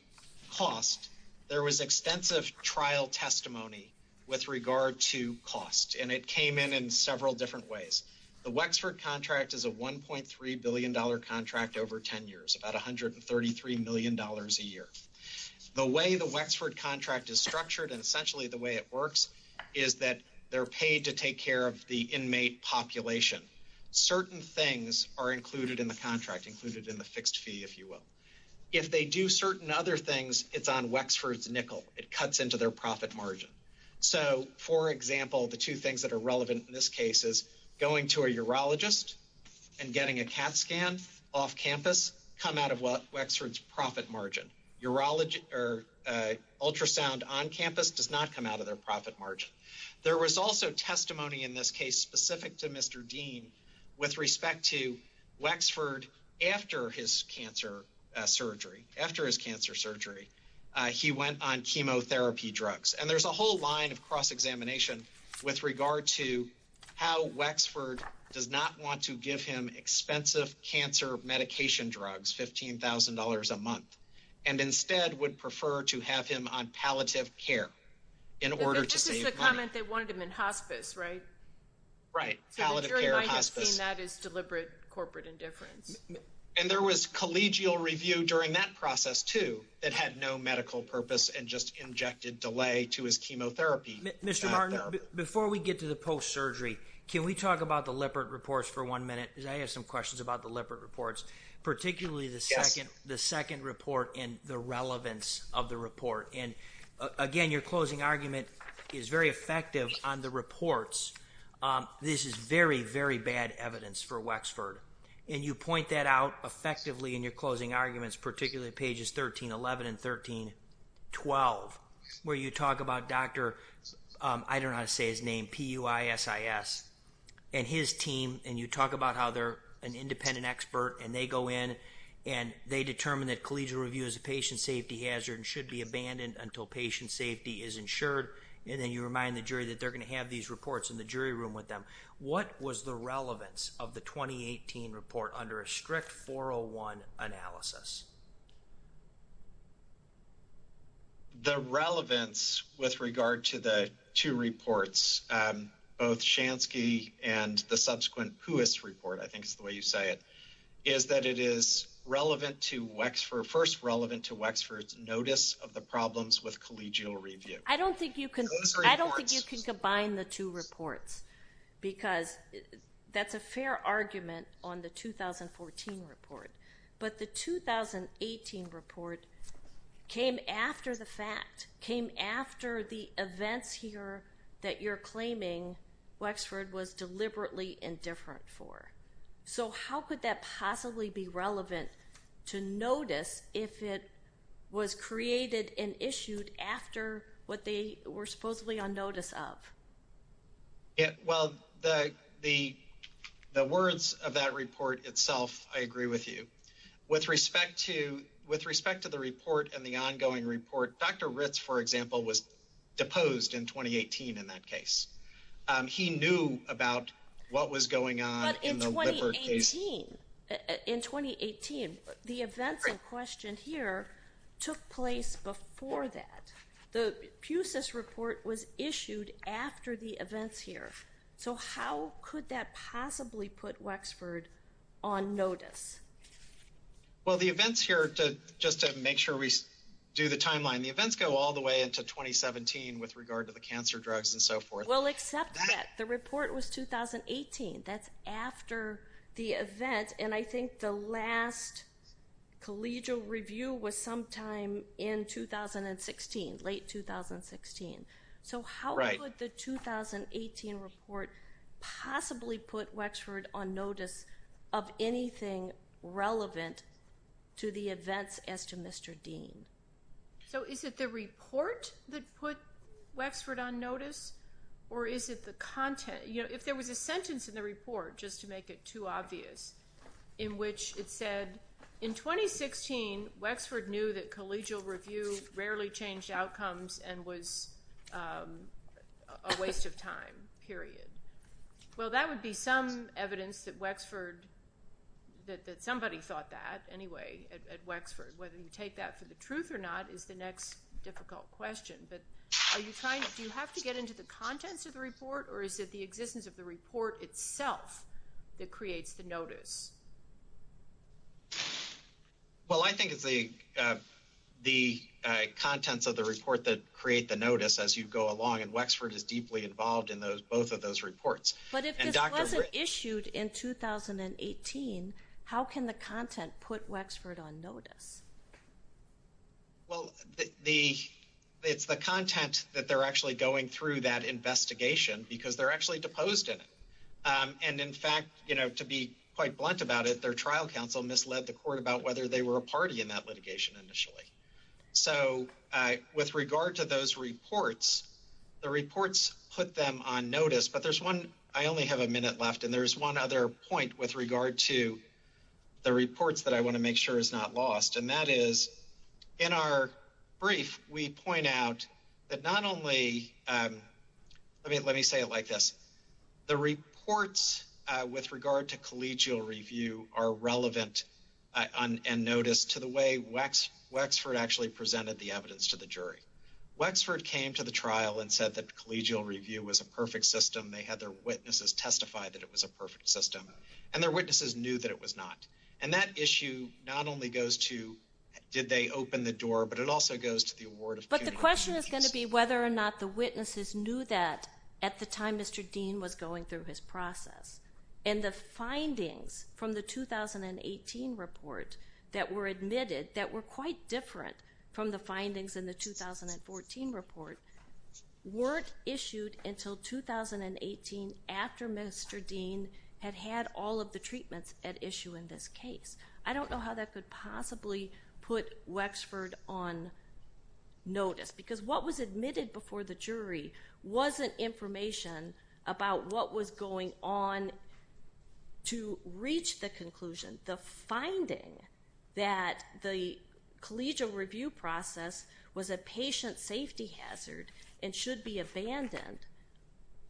cost there was extensive trial testimony with regard to cost and it came in in several different ways the Wexford contract is a 1.3 billion dollar contract over 10 million dollars a year the way the Wexford contract is structured and essentially the way it works is that they're paid to take care of the inmate population certain things are included in the contract included in the fixed fee if you will if they do certain other things it's on Wexford's nickel it cuts into their profit margin so for example the two things that are relevant in this case is going to a urologist and getting a cat scan off campus come out of what Wexford's profit margin urology or ultrasound on campus does not come out of their profit margin there was also testimony in this case specific to mr. Dean with respect to Wexford after his cancer surgery after his cancer surgery he went on chemotherapy drugs and there's a whole line of cross-examination with regard to how Wexford does not want to give him expensive cancer medication drugs $15,000 a month and instead would prefer to have him on palliative care in order to comment they wanted him in hospice right right how to care about that is deliberate corporate indifference and there was collegial review during that process too that had no medical purpose and just injected delay to his chemotherapy mr. Arnaud before we get to the post-surgery can we talk about the leopard reports for one minute I have some questions about the leopard reports particularly the second the second report in the relevance of the report and again your closing argument is very effective on the reports this is very very bad evidence for Wexford and you point that out effectively in your closing arguments particularly pages 13 11 and 13 12 where you talk about dr. I don't know how to say his name PUIS is and his team and you talk about how they're an independent expert and they go in and they determine that collegial review is a patient safety hazard and should be abandoned until patient safety is insured and then you remind the jury that they're going to have these reports in the jury room with them what was the relevance of the 2018 report under a strict 401 analysis the relevance with PUIS report I think the way you say it is that it is relevant to Wexford first relevant to Wexford's notice of the problems with collegial review I don't think you can I don't think you can combine the two reports because that's a fair argument on the 2014 report but the 2018 report came after the fact came different for so how could that possibly be relevant to notice if it was created and issued after what they were supposedly on notice of it well the the the words of that report itself I agree with you with respect to with respect to the report and the ongoing report dr. Ritz for example was deposed in 2018 in that case he knew about what was going on in 2018 the event question here took place before that the fuses report was issued after the events here so how could that possibly put Wexford on notice well the events here to just to make sure we do the timeline the events go all the way into 2017 with regard to the cancer drugs and so forth well except that the report was 2018 that's after the event and I think the last collegial review was sometime in 2016 late 2016 so how would the 2018 report possibly put Wexford on notice of or is it the content you know if there was a sentence in the report just to make it too obvious in which it said in 2016 Wexford knew that collegial review rarely changed outcomes and was a waste of time period well that would be some evidence that Wexford that somebody thought that anyway at Wexford whether you take that for the truth or not is the next difficult question but are you trying to do you have to get into the contents of the report or is it the existence of the report itself that creates the notice well I think the the contents of the report that create the notice as you go along and Wexford is deeply involved in those both of those reports but it was issued in 2018 how can the content put Wexford on notice well the it's the content that they're actually going through that investigation because they're actually deposed in it and in fact you know to be quite blunt about it their trial counsel misled the court about whether they were a party in that litigation initially so with regard to those reports the reports put them on notice but there's one I only the reports that I want to make sure is not lost and that is in our brief we point out that not only I mean let me say it like this the reports with regard to collegial review are relevant on and notice to the way wax Wexford actually presented the evidence to the jury Wexford came to the trial and said that collegial review was a perfect system they had their witnesses testify that it was a perfect system and their witnesses knew that it was not and that issue not only goes to did they open the door but it also goes to the award but the question is going to be whether or not the witnesses knew that at the time mr. Dean was going through his process and the findings from the 2018 report that were admitted that were quite different from the findings in the 2014 report weren't issued until 2018 after mr. Dean had had all of the treatments at issue in this case I don't know how that could possibly put Wexford on notice because what was admitted before the jury wasn't information about what was going on to reach the conclusion the finding that the collegial review process was a patient safety hazard and should be abandoned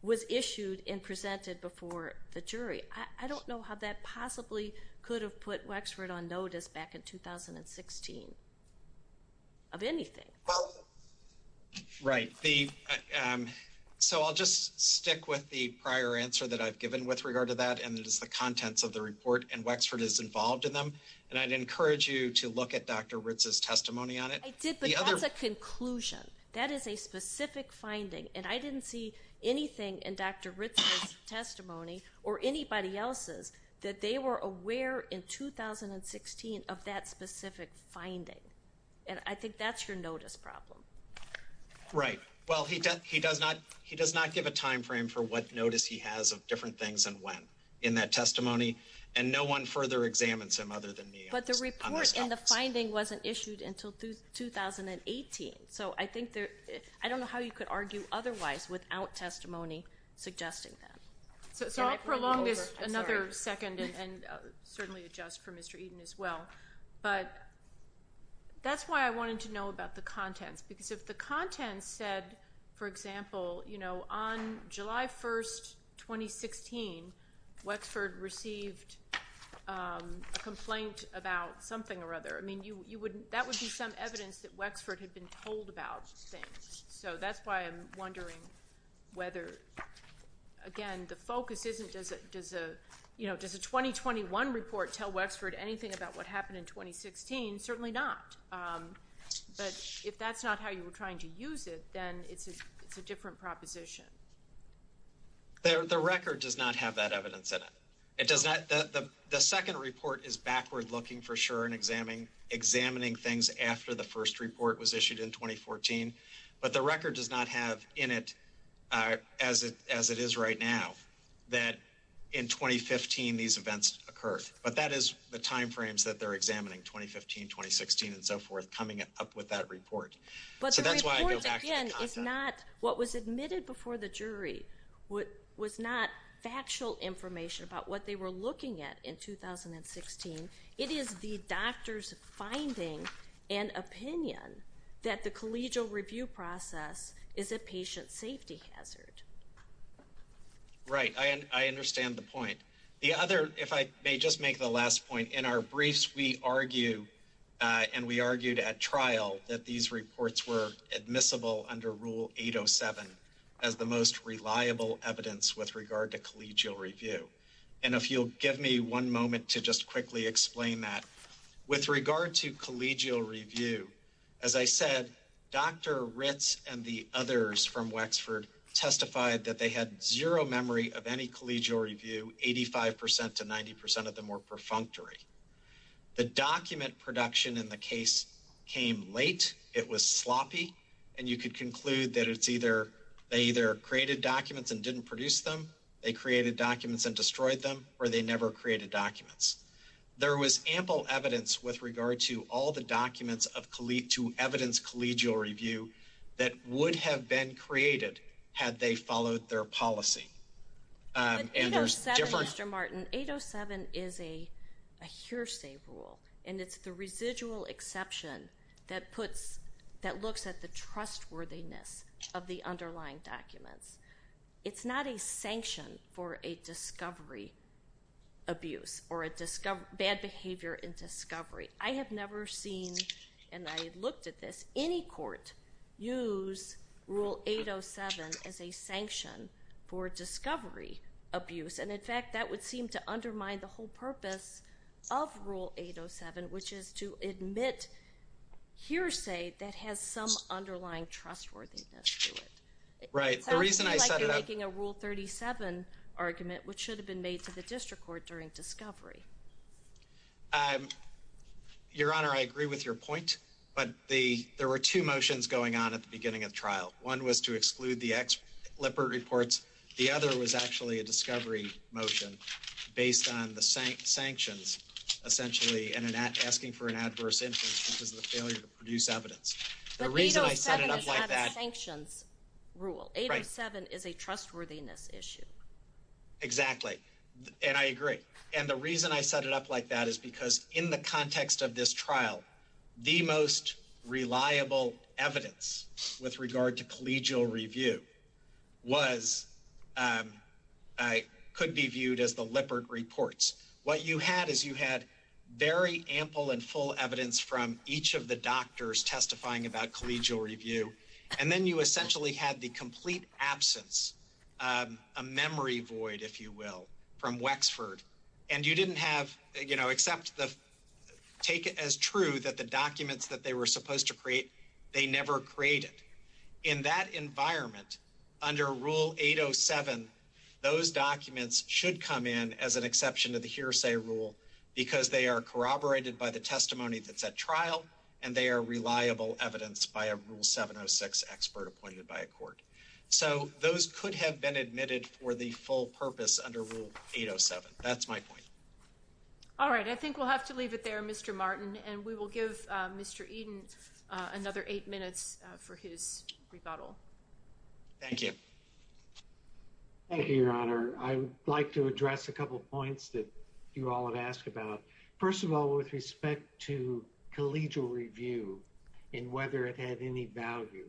was issued and presented before the jury I don't know how that possibly could have put Wexford on notice back in 2016 of anything well right the so I'll just stick with the prior answer that I've given with regard to that and this is the contents of the report and Wexford is involved in them and I'd encourage you to look at dr. Ritz's testimony on it the other conclusion that is a specific finding and I didn't see anything in dr. Ritz's testimony or anybody else's that they were aware in 2016 of that specific finding and I think that's your notice problem right well he does he does not he does not give a time frame for what notice he has of different things and when in that testimony and no one further examine some other than me but the report and the finding wasn't issued until through 2018 so I think there I don't know how you could argue otherwise without testimony suggesting that so I'll prolong it another second and certainly adjust for mr. Eden as well but that's why I wanted to know about the content because if the content said for example you know on July 1st 2016 Wexford received a complaint about something or other I mean you you wouldn't that would be some evidence that Wexford had been told about so that's why I'm wondering whether again the focus isn't as a you know there's a 2021 report tell Wexford anything about what happened in 2016 certainly not but if that's not how you were trying to use it then it's a different proposition there the record does not have that evidence that it does that the second report is backward looking for sure and examining examining things after the first report was issued in 2014 but the record does not have in it as it as it is right now that in 2015 these events occurred but that is the time frames that they're examining 2015 2016 and so forth coming it up with that report but jury what was not factual information about what they were looking at in 2016 it is the doctors finding an opinion that the collegial review process is a patient safety hazard right I understand the point the other if I may just make the last point in our briefs we argue and we argued at trial that these reliable evidence with regard to collegial review and if you'll give me one moment to just quickly explain that with regard to collegial review as I said dr. Ritz and the others from Wexford testified that they had zero memory of any collegial review 85% to 90% of them were perfunctory the document production in the case came late it was sloppy and you could conclude that it's either they either created documents and didn't produce them they created documents and destroyed them or they never created documents there was ample evidence with regard to all the documents of Khaleed to evidence collegial review that would have been created had they followed their policy and there's different mr. Martin 807 is a hearsay rule and it's the residual exception that puts that looks at the trustworthiness of the underlying documents it's not a sanction for a discovery abuse or a discover bad behavior in discovery I have never seen and I looked at this any court use rule 807 as a sanction for discovery abuse and in fact that would seem to undermine the whole purpose of rule 807 which is to admit hearsay that has some underlying trustworthiness right the reason I'm making a rule 37 argument which should have been made to the district court during discovery I'm your honor I agree with your point but the there were two motions going on at the beginning of trial one was to exclude the X leopard reports the other was actually a discovery motion based on the same sanctions essentially and then at asking for an adverse interest in the failure to produce evidence the reason I set it up like that sanctions rule 87 is a trustworthiness issue exactly and I agree and the reason I set it up like that is because in the context of this trial the most reliable evidence with regard to collegial review was I could be viewed as the leopard reports what you had is you had very ample and full evidence from each of the doctors testifying about collegial review and then you essentially had the complete absence a memory void if you will from Wexford and you didn't have you know except the take it as true that the documents that they were supposed to create they never created in that environment under rule 807 those documents should come in as an exception to the hearsay rule because they are corroborated by the testimony that's at trial and they are reliable evidence by a rule 706 expert appointed by a court so those could have been admitted for the full purpose under rule 807 that's my point all right I think we'll have to leave it there mr. Martin and we will give mr. Eden another eight minutes for his rebuttal thank you thank you your honor I'd like to address a couple points that you all have asked about first of all with respect to collegial review and whether it had any value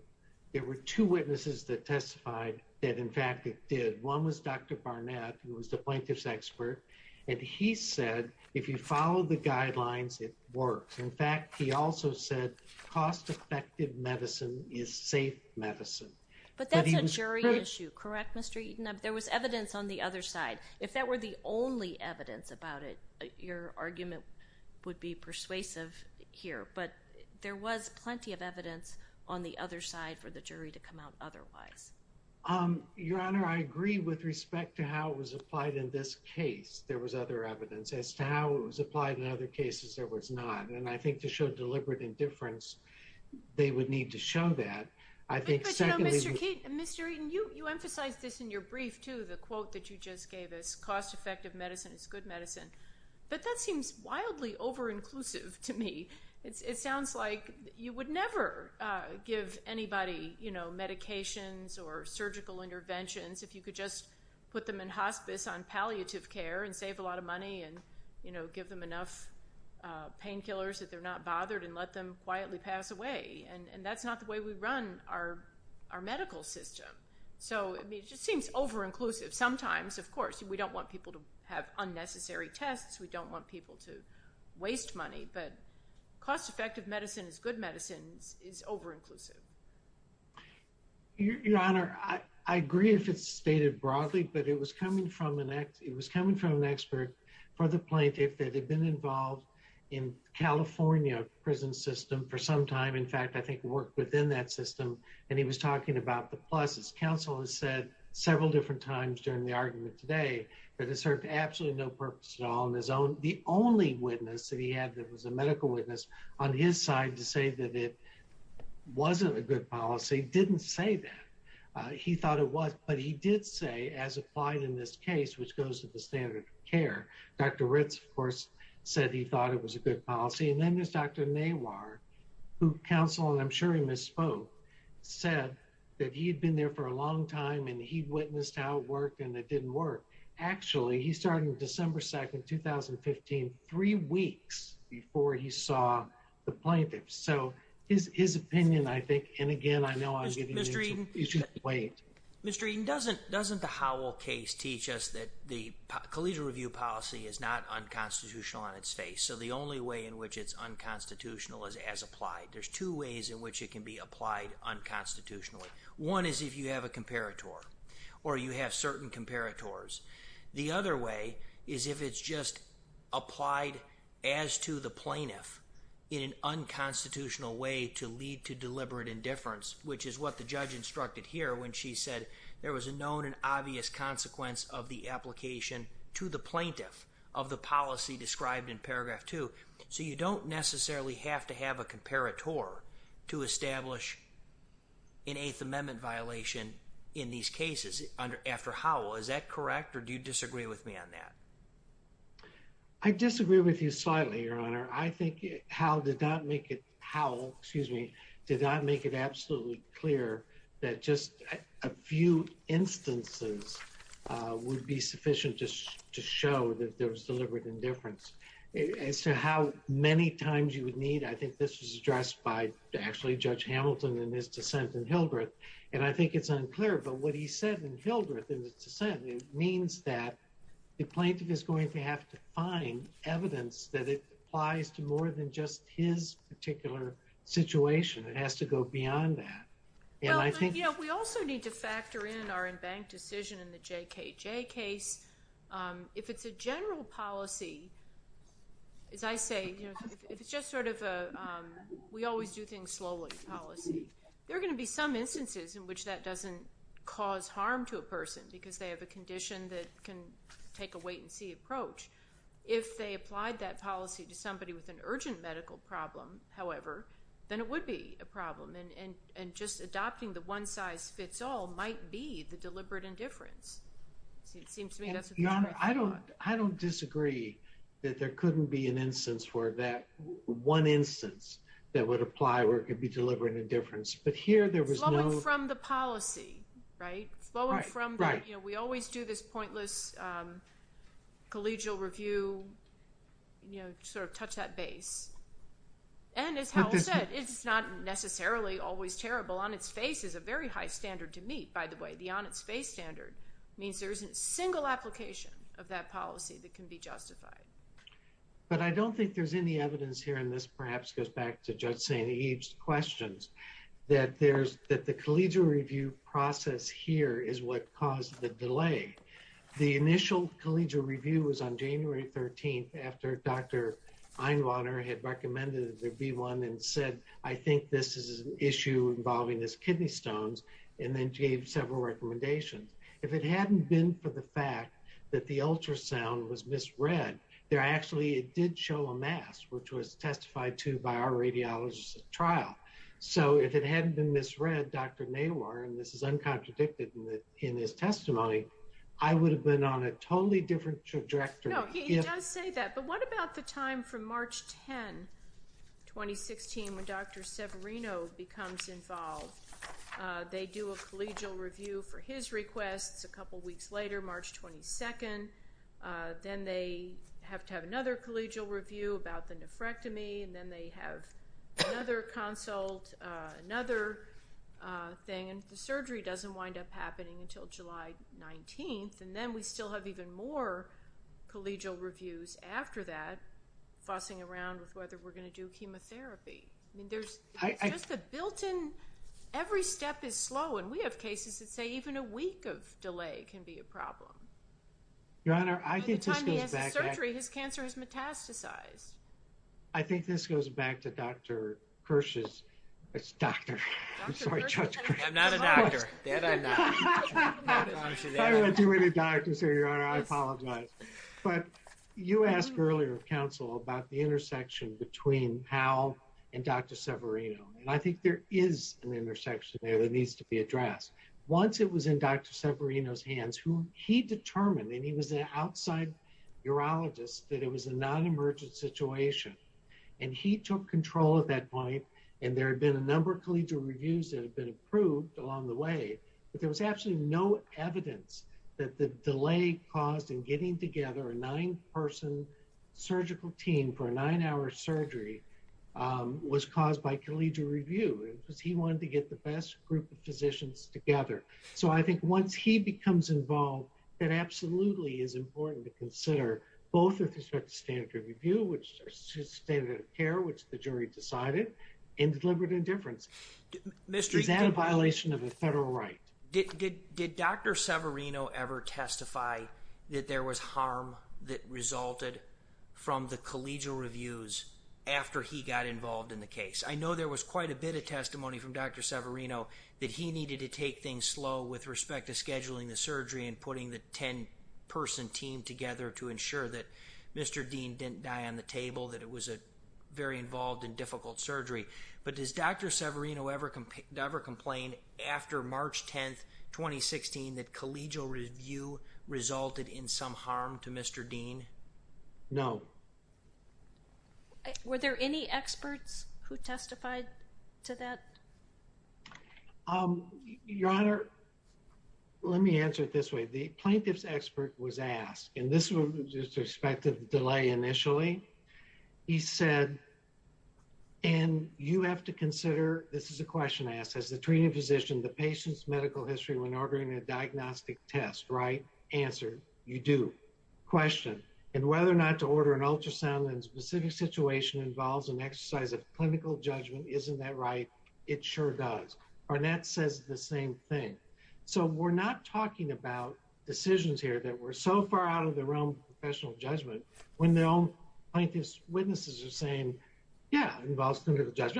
there were two witnesses that testified that in fact it did one was dr. Barnett who was the plaintiffs expert and he said if you follow the guidelines it works in fact he also said cost-effective medicine is safe medicine but the jury issue correct mr. you know there was evidence on the other side if that were the only evidence about it your argument would be persuasive here but there was plenty of evidence on the other side for the jury to come out otherwise um your honor I agree with respect to how it was applied in this case there was other evidence as to how it was applied in other cases there was not and I think to deliberate indifference they would need to show that I think mr. you emphasize this in your brief to the quote that you just gave us cost-effective medicine it's good medicine but that seems wildly over inclusive to me it sounds like you would never give anybody you know medications or surgical interventions if you could just put them in hospice on palliative care and save a lot of money and you bothered and let them quietly pass away and and that's not the way we run our our medical system so it just seems over inclusive sometimes of course we don't want people to have unnecessary tests we don't want people to waste money but cost-effective medicine is good medicine is over inclusive your honor I agree if it's stated broadly but it was coming from the neck it was coming from an for the plaintiff that had been involved in California prison system for some time in fact I think work within that system and he was talking about the pluses counsel has said several different times during the argument today but it served absolutely no purpose at all on his own the only witness that he had that was a medical witness on his side to say that it wasn't a good policy didn't say that he thought it was but he did say as applied in this case which goes to the standard of care dr. Ritz of course said he thought it was a good policy and then this dr. Naylor who counsel and I'm sure he misspoke said that he'd been there for a long time and he witnessed how it worked and it didn't work actually he started December 2nd 2015 three weeks before he saw the plaintiffs so is his opinion I think and again I know I should wait mystery doesn't doesn't the collegiate review policy is not unconstitutional on its face so the only way in which it's unconstitutional is as applied there's two ways in which it can be applied unconstitutionally one is if you have a comparator or you have certain comparators the other way is if it's just applied as to the plaintiff in an unconstitutional way to lead to deliberate indifference which is what the judge instructed here when she said there was a known and obvious consequence of the application to the plaintiff of the policy described in paragraph 2 so you don't necessarily have to have a comparator to establish in eighth amendment violation in these cases under after how is that correct or do you disagree with me on that I disagree with you slightly your honor I think how did that make it how excuse me did not make it absolutely clear that just a few instances would be sufficient just to show that there was deliberate indifference and so how many times you would need I think this is addressed by actually judge Hamilton in this dissent in Hildreth and I think it's unclear but what he said in Hildreth it means that the plaintiff is going to have to find evidence that it applies to more than just his particular situation it has to go beyond that yeah I think yeah we also need to factor in our in bank decision in the JKJ case if it's a general policy as I say it's just sort of a we always do things slowly policy they're going to be some instances in which that doesn't cause harm to a person because they have a condition that can take a wait-and-see approach if they applied that policy to urgent medical problem however then it would be a problem and and and just adopting the one-size-fits-all might be the deliberate indifference I don't I don't disagree that there couldn't be an instance for that one instance that would apply where it could be deliberate indifference but here there was from the policy right well we're from right you know we always do this pointless collegial review you know sort of touch that base and it's not necessarily always terrible on its face is a very high standard to meet by the way the on its face standard means there isn't a single application of that policy that can be justified but I don't think there's any evidence here in this perhaps goes back to judge Santa Eve's questions that there's that the collegial review process here is what caused the delay the initial collegial review was on January 13th after dr. Einluner had recommended there be one and said I think this is an issue involving his kidney stones and then gave several recommendations if it hadn't been for the fact that the ultrasound was misread there actually it did show a mass which was testified to by our radiologist trial so if it hadn't been misread dr. May were and this is uncontradicted in this testimony I would have been on a totally different trajectory but what about the time from March 10 2016 when dr. Severino becomes involved they do a collegial review for his request a couple weeks later March 22nd then they have to have another collegial review about the nephrectomy then they have another consult another thing and the surgery doesn't wind up happening until July 19th and then we still have even more collegial reviews after that fussing around with whether we're going to do chemotherapy there's a built-in every step is slow and we have cases that say even a week of delay your honor I think I think this goes back to dr. Kirsch's but you asked earlier counsel about the intersection between how and dr. Severino and I think there is an intersection there that needs to be addressed once it was in dr. Severino's hands who he determined and he was an outside urologist that it was a non-emergent situation and he took control at that point and there had been a number of collegial reviews that have been approved along the way but there was absolutely no evidence that the delay caused in getting together a nine-person surgical team for a nine-hour surgery was caused by collegial review because he wanted to get the best group of physicians together so I think once he becomes involved that absolutely is important to consider both of the standard review which is standard care which the jury decided and deliberate indifference mr. is that a violation of the federal right did dr. Severino ever testify that there was harm that resulted from the collegial reviews after he got involved in the case I know there was quite a bit of scheduling the surgery and putting the ten person team together to ensure that mr. Dean didn't die on the table that it was a very involved in difficult surgery but does dr. Severino ever can never complain after March 10th 2016 that collegial review resulted in some harm to mr. Dean no were there any experts who testified to that your honor let me answer it this way the plaintiff's expert was asked and this was just expected delay initially he said and you have to consider this is a question asked as the treating physician the patient's medical history when ordering a diagnostic test right answer you do question and whether or not to order an ultrasound and specific situation involves an exercise of clinical judgment isn't that right it sure does Barnett says the same thing so we're not talking about decisions here that were so far out of the realm professional judgment when they don't like this witnesses are saying yeah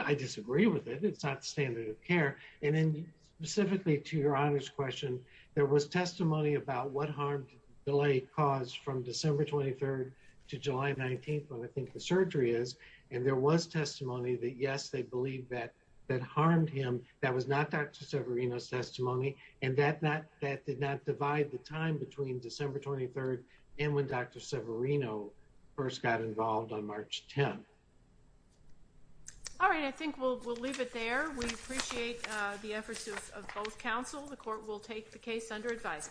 I disagree with it it's not standard of care and then specifically to your honors question there was testimony about what harm delay caused from December 23rd to July 19th when I think the surgery is and there was testimony that yes they believe that that harmed him that was not back to Severino's testimony and that not that did not divide the time between December 23rd and when dr. Severino first got involved on March 10 all right I think we'll leave it there we appreciate the efforts of both counsel the court will take the case under advisement